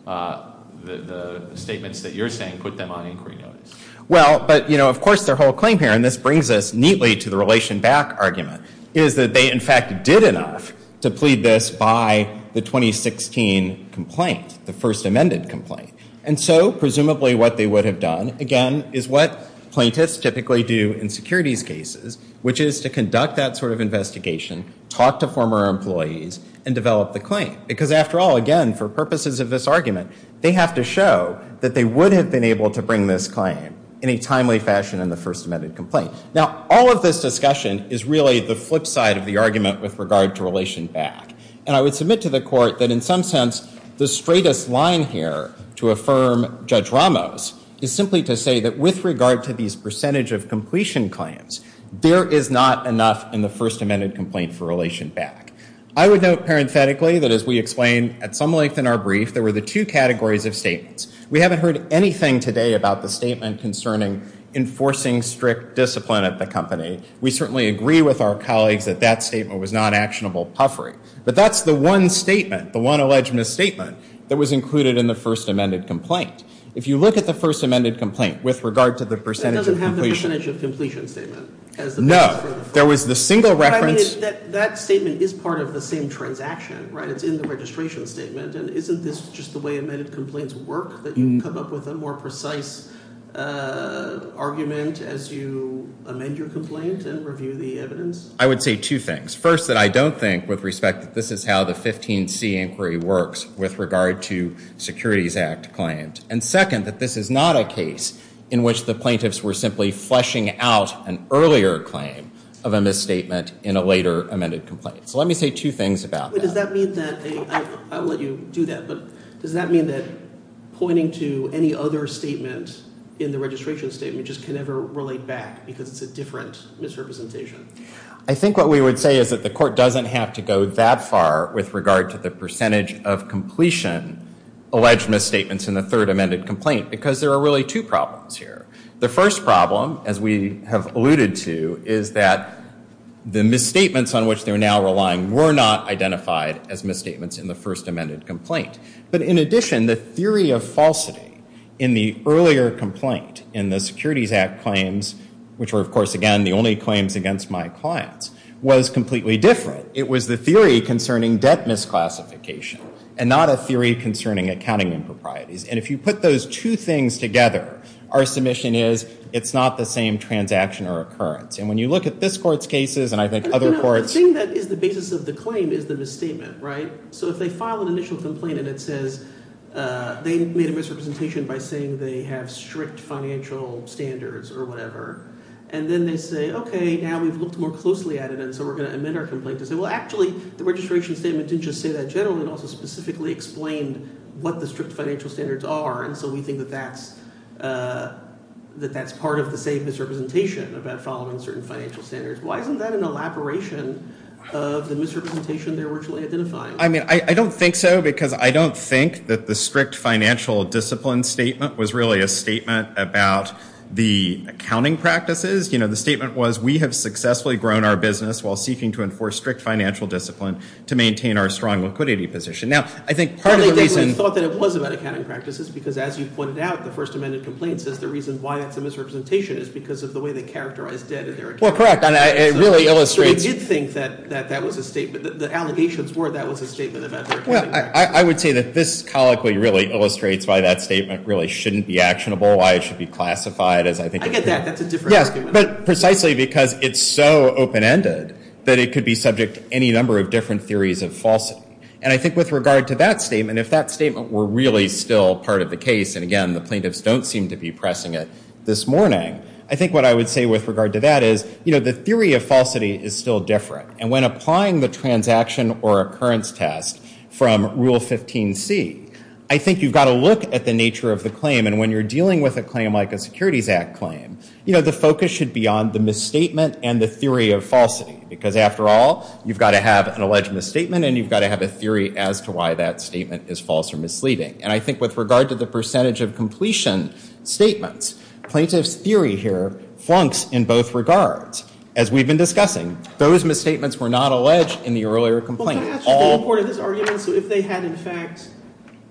the statements that you're saying put them on inquiry notice. Well, but, of course, their whole claim here, and this brings us neatly to the relation back argument, is that they, in fact, did enough to plead this by the 2016 complaint, the first amended complaint. And so, presumably, what they would have done, again, is what plaintiffs typically do in securities cases, which is to conduct that sort of investigation, talk to former employees, and develop the claim. Because, after all, again, for purposes of this argument, they have to show that they would have been able to bring this claim in a timely fashion in the first amended complaint. Now, all of this discussion is really the flip side of the argument with regard to relation back. And I would submit to the court that, in some sense, the straightest line here to affirm Judge Ramos is simply to say that with regard to these percentage of completion claims, there is not enough in the first amended complaint for relation back. I would note, parenthetically, that, as we explained at some length in our brief, there were the two categories of statements. We haven't heard anything today about the statement concerning enforcing strict discipline at the company. We certainly agree with our colleagues that that statement was not actionable puffery. But that's the one statement, the one alleged misstatement, that was included in the first amended complaint. If you look at the first amended complaint with regard to the percentage of completion. That doesn't have the percentage of completion statement. No. There was the single reference. That statement is part of the same transaction, right? It's in the registration statement. And isn't this just the way amended complaints work, that you come up with a more precise argument as you amend your complaint and review the evidence? I would say two things. First, that I don't think, with respect, that this is how the 15C inquiry works with regard to Securities Act claims. And second, that this is not a case in which the plaintiffs were simply fleshing out an earlier claim of a misstatement in a later amended complaint. So let me say two things about that. Does that mean that, I will let you do that, but does that mean that pointing to any other statement in the registration statement just can never relate back because it's a different misrepresentation? I think what we would say is that the court doesn't have to go that far with regard to the percentage of completion alleged misstatements in the third amended complaint because there are really two problems here. The first problem, as we have alluded to, is that the misstatements on which they're now relying were not identified as misstatements in the first amended complaint. But in addition, the theory of falsity in the earlier complaint in the Securities Act claims, which were, of course, again, the only claims against my clients, was completely different. It was the theory concerning debt misclassification and not a theory concerning accounting improprieties. And if you put those two things together, our submission is it's not the same transaction or occurrence. And when you look at this court's cases and I think other courts— The thing that is the basis of the claim is the misstatement, right? So if they file an initial complaint and it says they made a misrepresentation by saying they have strict financial standards or whatever, and then they say, okay, now we've looked more closely at it and so we're going to amend our complaint. They say, well, actually, the registration statement didn't just say that generally. It also specifically explained what the strict financial standards are. And so we think that that's part of the same misrepresentation about following certain financial standards. Why isn't that an elaboration of the misrepresentation they're originally identifying? I mean I don't think so because I don't think that the strict financial discipline statement was really a statement about the accounting practices. You know, the statement was we have successfully grown our business while seeking to enforce strict financial discipline to maintain our strong liquidity position. Now, I think part of the reason— I thought that it was about accounting practices because as you pointed out, the First Amendment complaint says the reason why that's a misrepresentation is because of the way they characterized debt in their accounting practices. Well, correct, and it really illustrates— So they did think that that was a statement. The allegations were that was a statement about their accounting practices. Well, I would say that this colloquy really illustrates why that statement really shouldn't be actionable, why it should be classified as I think— I get that. That's a different— Yes, but precisely because it's so open-ended that it could be subject to any number of different theories of falsity. And I think with regard to that statement, if that statement were really still part of the case, and again, the plaintiffs don't seem to be pressing it this morning, I think what I would say with regard to that is, you know, the theory of falsity is still different. And when applying the transaction or occurrence test from Rule 15c, I think you've got to look at the nature of the claim. And when you're dealing with a claim like a Securities Act claim, you know, the focus should be on the misstatement and the theory of falsity because after all, you've got to have an alleged misstatement and you've got to have a theory as to why that statement is false or misleading. And I think with regard to the percentage of completion statements, plaintiff's theory here flunks in both regards. As we've been discussing, those misstatements were not alleged in the earlier complaint. Well, perhaps they imported this argument so if they had in fact –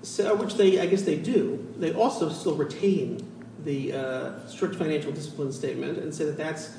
which I guess they do. They also still retain the strict financial discipline statement and say that that's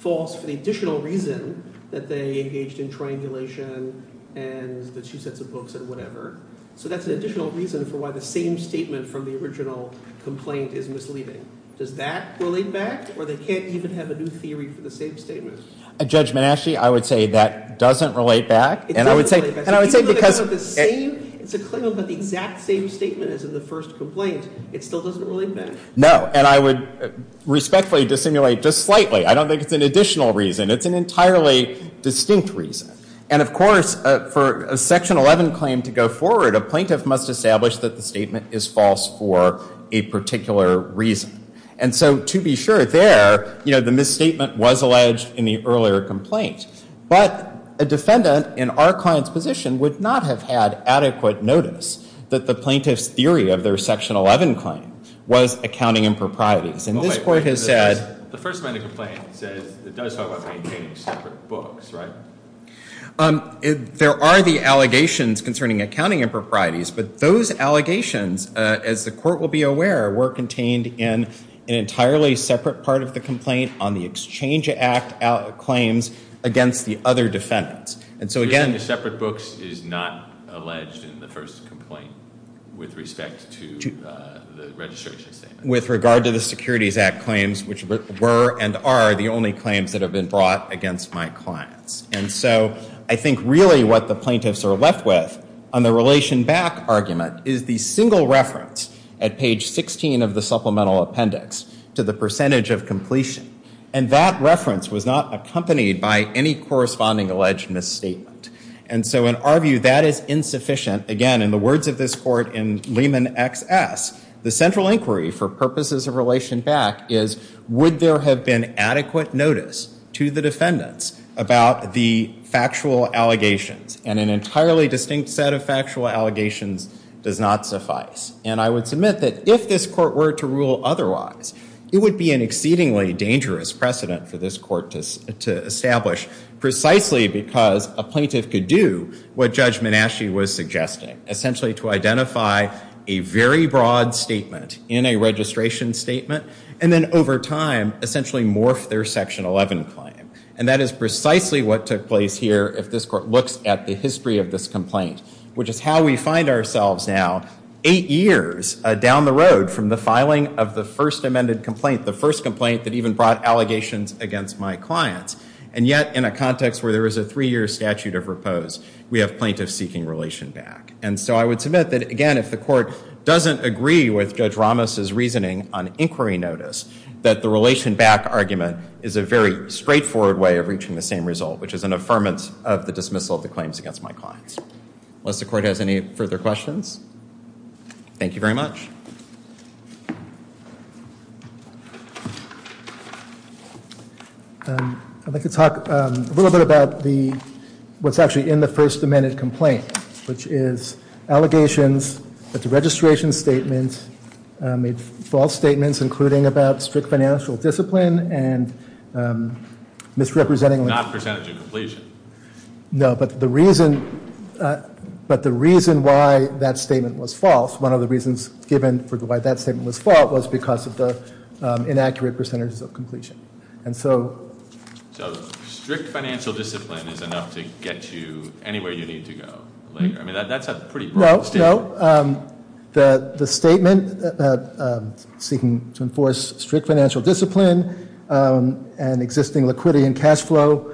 false for the additional reason that they engaged in triangulation and the two sets of books and whatever. So that's an additional reason for why the same statement from the original complaint is misleading. Does that relate back or they can't even have a new theory for the same statement? Judge Menasche, I would say that doesn't relate back. It doesn't relate back. And I would say because – Even if it's a claim about the exact same statement as in the first complaint, it still doesn't relate back. No. And I would respectfully dissimulate just slightly. I don't think it's an additional reason. It's an entirely distinct reason. And of course, for a Section 11 claim to go forward, a plaintiff must establish that the statement is false for a particular reason. And so to be sure there, the misstatement was alleged in the earlier complaint. But a defendant in our client's position would not have had adequate notice that the plaintiff's theory of their Section 11 claim was accounting improprieties. And this court has said – The First Amendment complaint says it does talk about maintaining separate books, right? There are the allegations concerning accounting improprieties. But those allegations, as the court will be aware, were contained in an entirely separate part of the complaint on the Exchange Act claims against the other defendants. And so again – Using the separate books is not alleged in the first complaint with respect to the registration statement. With regard to the Securities Act claims, which were and are the only claims that have been brought against my clients. And so I think really what the plaintiffs are left with on the relation back argument is the single reference at page 16 of the supplemental appendix to the percentage of completion. And that reference was not accompanied by any corresponding alleged misstatement. And so in our view, that is insufficient. Again, in the words of this court in Lehman XS, the central inquiry for purposes of relation back is would there have been adequate notice to the defendants about the factual allegations? And an entirely distinct set of factual allegations does not suffice. And I would submit that if this court were to rule otherwise, it would be an exceedingly dangerous precedent for this court to establish precisely because a plaintiff could do what Judge Menasche was suggesting. Essentially to identify a very broad statement in a registration statement and then over time essentially morph their Section 11 claim. And that is precisely what took place here if this court looks at the history of this complaint, which is how we find ourselves now eight years down the road from the filing of the first amended complaint, the first complaint that even brought allegations against my clients. And yet in a context where there is a three-year statute of repose, we have plaintiffs seeking relation back. And so I would submit that, again, if the court doesn't agree with Judge Ramos' reasoning on inquiry notice, that the relation back argument is a very straightforward way of reaching the same result, which is an affirmance of the dismissal of the claims against my clients. Unless the court has any further questions. Thank you very much. I'd like to talk a little bit about what's actually in the first amended complaint, which is allegations that the registration statement made false statements, including about strict financial discipline and misrepresenting- Not percentage of completion. No, but the reason why that statement was false, one of the reasons given for why that statement was false was because of the inaccurate percentages of completion. So strict financial discipline is enough to get you anywhere you need to go. I mean, that's a pretty broad statement. No, no. The statement seeking to enforce strict financial discipline and existing liquidity and cash flow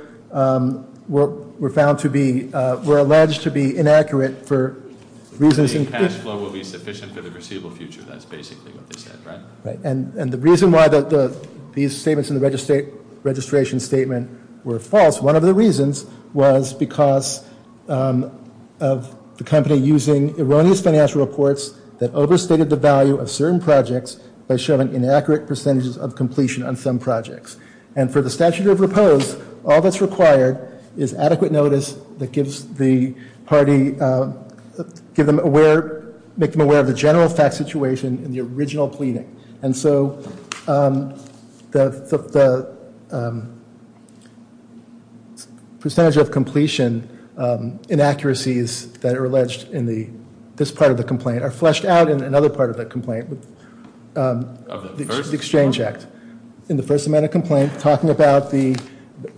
were found to be-were alleged to be inaccurate for reasons- Liquidity and cash flow will be sufficient for the foreseeable future. That's basically what they said, right? And the reason why these statements in the registration statement were false, one of the reasons was because of the company using erroneous financial reports that overstated the value of certain projects by showing inaccurate percentages of completion on some projects. And for the statute of repose, all that's required is adequate notice that gives the party- give them aware-make them aware of the general fact situation in the original pleading. And so the percentage of completion inaccuracies that are alleged in this part of the complaint are fleshed out in another part of the complaint. The exchange act. In the first amendment complaint, talking about the- What about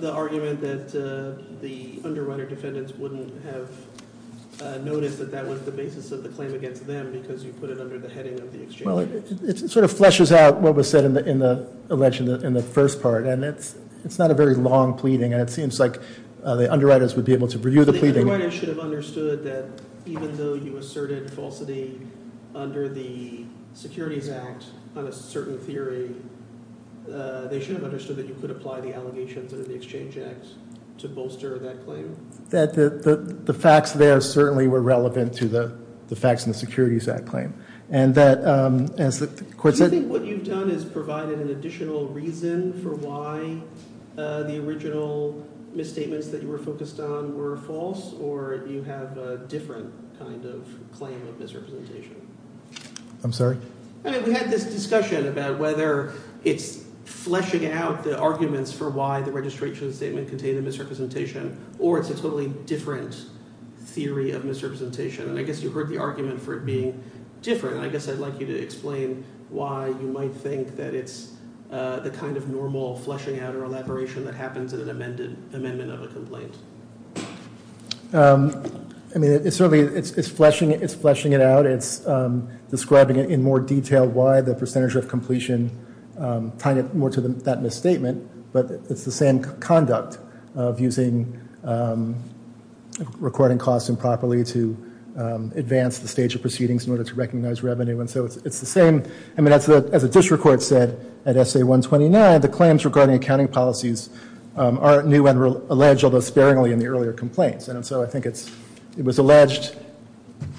the argument that the underwriter defendants wouldn't have noticed that that was the basis of the claim against them because you put it under the heading of the exchange? Well, it sort of fleshes out what was said in the allegation in the first part, and it's not a very long pleading, and it seems like the underwriters would be able to review the pleading. The underwriters should have understood that even though you asserted falsity under the Securities Act on a certain theory, they should have understood that you could apply the allegations under the Exchange Act to bolster that claim. That the facts there certainly were relevant to the facts in the Securities Act claim. And that, as the court said- Do you think what you've done is provided an additional reason for why the original misstatements that you were focused on were false, or do you have a different kind of claim of misrepresentation? I'm sorry? I mean, we had this discussion about whether it's fleshing out the arguments for why the registration statement contained a misrepresentation, or it's a totally different theory of misrepresentation, and I guess you heard the argument for it being different. I guess I'd like you to explain why you might think that it's the kind of normal fleshing out or elaboration that happens in an amendment of a complaint. I mean, it certainly is fleshing it out. It's describing it in more detail why the percentage of completion tied more to that misstatement, but it's the same conduct of using recording costs improperly to advance the stage of proceedings in order to recognize revenue. And so it's the same- I mean, as the district court said at SA-129, the claims regarding accounting policies are new and alleged, although sparingly, in the earlier complaints, and so I think it was alleged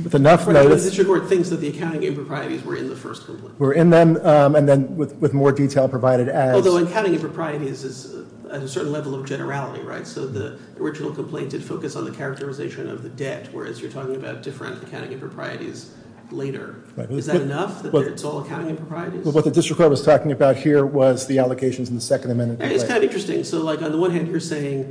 with enough notice- The district court thinks that the accounting improprieties were in the first complaint. Were in them, and then with more detail provided as- Although accounting improprieties is at a certain level of generality, right? So the original complaint did focus on the characterization of the debt, whereas you're talking about different accounting improprieties later. Is that enough, that it's all accounting improprieties? What the district court was talking about here was the allocations in the second amendment. It's kind of interesting. So, like, on the one hand, you're saying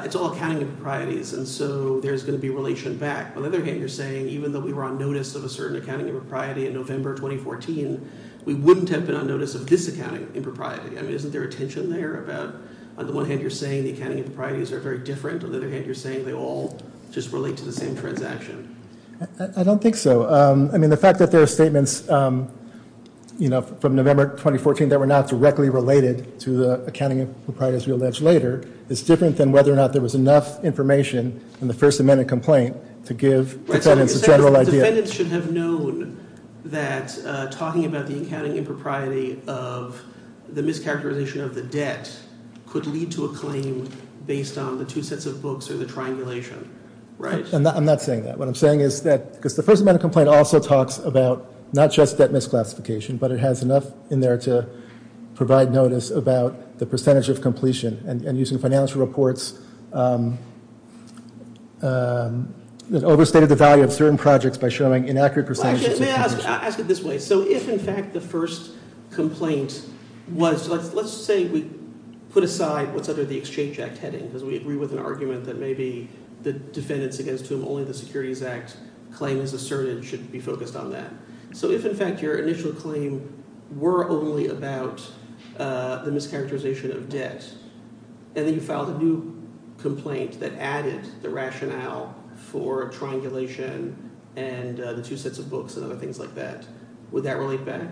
it's all accounting improprieties, and so there's going to be relation back. On the other hand, you're saying even though we were on notice of a certain accounting impropriety in November 2014, we wouldn't have been on notice of this accounting impropriety. I mean, isn't there a tension there about- On the one hand, you're saying the accounting improprieties are very different. On the other hand, you're saying they all just relate to the same transaction. I don't think so. I mean, the fact that there are statements, you know, from November 2014 that were not directly related to the accounting improprieties we allege later is different than whether or not there was enough information in the first amendment complaint to give defendants a general idea. Defendants should have known that talking about the accounting impropriety of the mischaracterization of the debt could lead to a claim based on the two sets of books or the triangulation, right? I'm not saying that. What I'm saying is that because the first amendment complaint also talks about not just debt misclassification, but it has enough in there to provide notice about the percentage of completion and using financial reports that overstated the value of certain projects by showing inaccurate percentages. I'll ask it this way. So if, in fact, the first complaint was- Let's say we put aside what's under the Exchange Act heading because we agree with an argument that maybe the defendants against whom only the Securities Act claim is asserted should be focused on that. So if, in fact, your initial claim were only about the mischaracterization of debt and then you filed a new complaint that added the rationale for triangulation and the two sets of books and other things like that, would that relate back?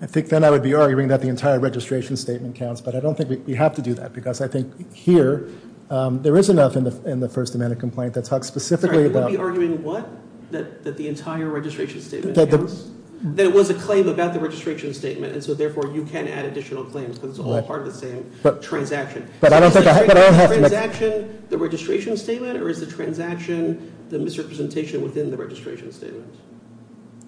I think then I would be arguing that the entire registration statement counts, but I don't think we have to do that because I think here there is enough in the first amendment complaint that talks specifically about- Sorry, you would be arguing what? That the entire registration statement counts? That it was a claim about the registration statement and so therefore you can add additional claims because it's all part of the same transaction. But I don't think I have to make- Is the transaction the registration statement or is the transaction the misrepresentation within the registration statement?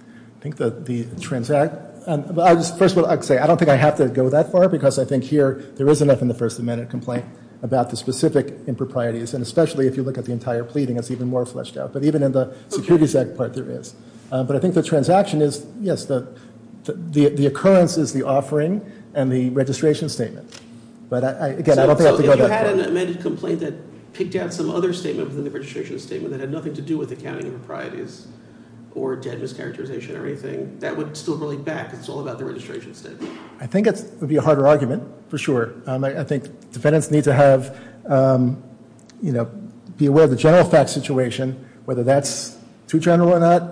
I think the transact- First of all, I don't think I have to go that far because I think here there is enough in the first amendment complaint about the specific improprieties and especially if you look at the entire pleading, it's even more fleshed out. But even in the Securities Act part, there is. But I think the transaction is, yes, the occurrence is the offering and the registration statement. But again, I don't think I have to go that far. So if you had an amended complaint that picked out some other statement within the registration statement that had nothing to do with accounting improprieties or debt mischaracterization or anything, that would still relate back because it's all about the registration statement. I think it would be a harder argument for sure. I think defendants need to have, you know, be aware of the general facts situation. Whether that's too general or not,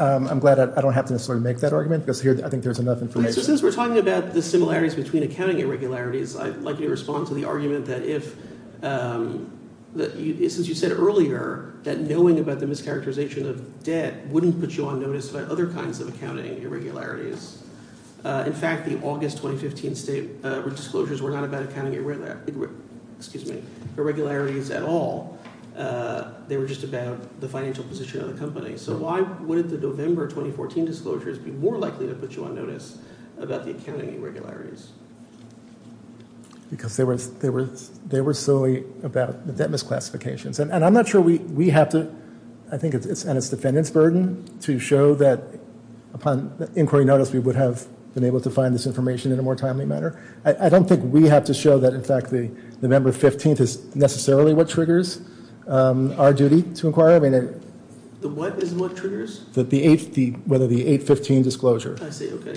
I'm glad I don't have to necessarily make that argument because here I think there's enough information. Since we're talking about the similarities between accounting irregularities, I'd like you to respond to the argument that if- Since you said earlier that knowing about the mischaracterization of debt wouldn't put you on notice about other kinds of accounting irregularities. In fact, the August 2015 state disclosures were not about accounting irregularities at all. They were just about the financial position of the company. So why wouldn't the November 2014 disclosures be more likely to put you on notice about the accounting irregularities? Because they were solely about debt misclassifications. And I'm not sure we have to- I think it's on its defendant's burden to show that upon inquiry notice we would have been able to find this information in a more timely manner. I don't think we have to show that in fact the November 15th is necessarily what triggers our duty to inquire. The what is what triggers? Whether the 8-15 disclosure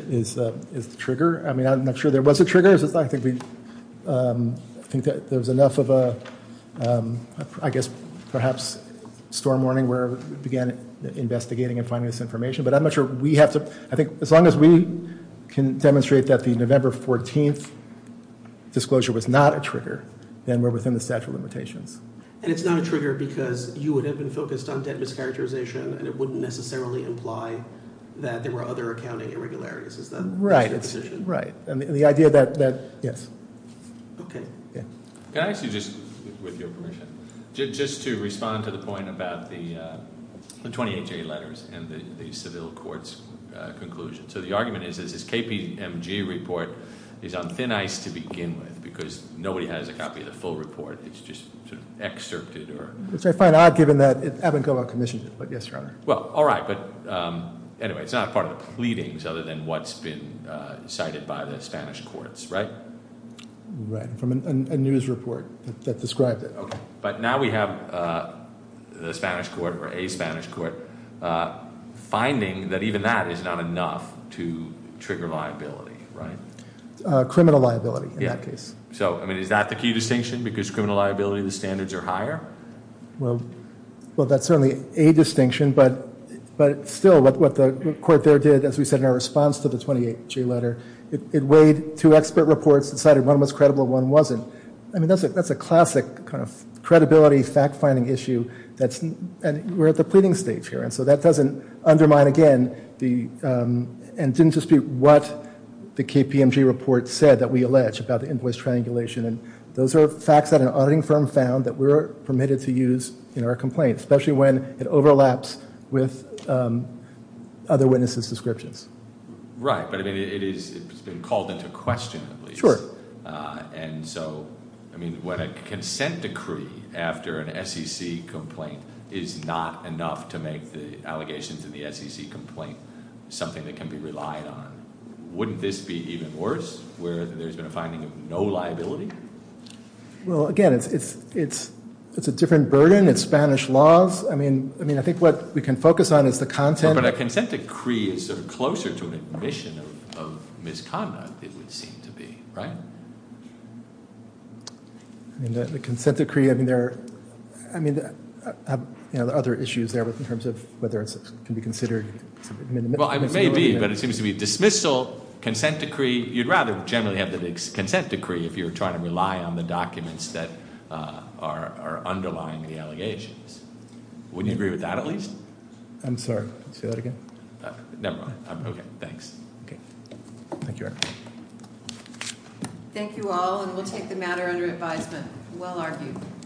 is the trigger. I mean, I'm not sure there was a trigger. I think there was enough of a, I guess, perhaps storm warning where we began investigating and finding this information. But I'm not sure we have to- I think as long as we can demonstrate that the November 14th disclosure was not a trigger, then we're within the statute of limitations. And it's not a trigger because you would have been focused on debt mischaracterization and it wouldn't necessarily imply that there were other accounting irregularities. Is that your position? Right. And the idea that, yes. Okay. Can I ask you just, with your permission, just to respond to the point about the 28-J letters and the civil court's conclusion. So the argument is that this KPMG report is on thin ice to begin with because nobody has a copy of the full report. It's just sort of excerpted or- Which I find odd given that it haven't gone on commission yet. But yes, Your Honor. Well, all right. But anyway, it's not part of the pleadings other than what's been cited by the Spanish courts, right? Right. From a news report that described it. Okay. But now we have the Spanish court, or a Spanish court, finding that even that is not enough to trigger liability, right? Criminal liability in that case. Yeah. So, I mean, is that the key distinction? Because criminal liability, the standards are higher? Well, that's certainly a distinction. But still, what the court there did, as we said in our response to the 28-J letter, it weighed two expert reports, decided one was credible and one wasn't. I mean, that's a classic kind of credibility fact-finding issue. And we're at the pleading stage here. And so that doesn't undermine, again, and didn't dispute what the KPMG report said that we allege about the invoice triangulation. And those are facts that an auditing firm found that we're permitted to use in our complaints, especially when it overlaps with other witnesses' descriptions. Right. But, I mean, it has been called into question, at least. Sure. And so, I mean, when a consent decree after an SEC complaint is not enough to make the allegations in the SEC complaint something that can be relied on, wouldn't this be even worse, where there's been a finding of no liability? Well, again, it's a different burden. It's Spanish laws. I mean, I think what we can focus on is the content. But a consent decree is sort of closer to an admission of misconduct, it would seem to be, right? I mean, the consent decree, I mean, there are other issues there in terms of whether it can be considered. Well, it may be, but it seems to be dismissal, consent decree. You'd rather generally have the consent decree if you're trying to rely on the documents that are underlying the allegations. Wouldn't you agree with that, at least? I'm sorry. Say that again? Never mind. Okay. Thanks. Okay. Thank you, Eric. Thank you all, and we'll take the matter under advisement. Well argued.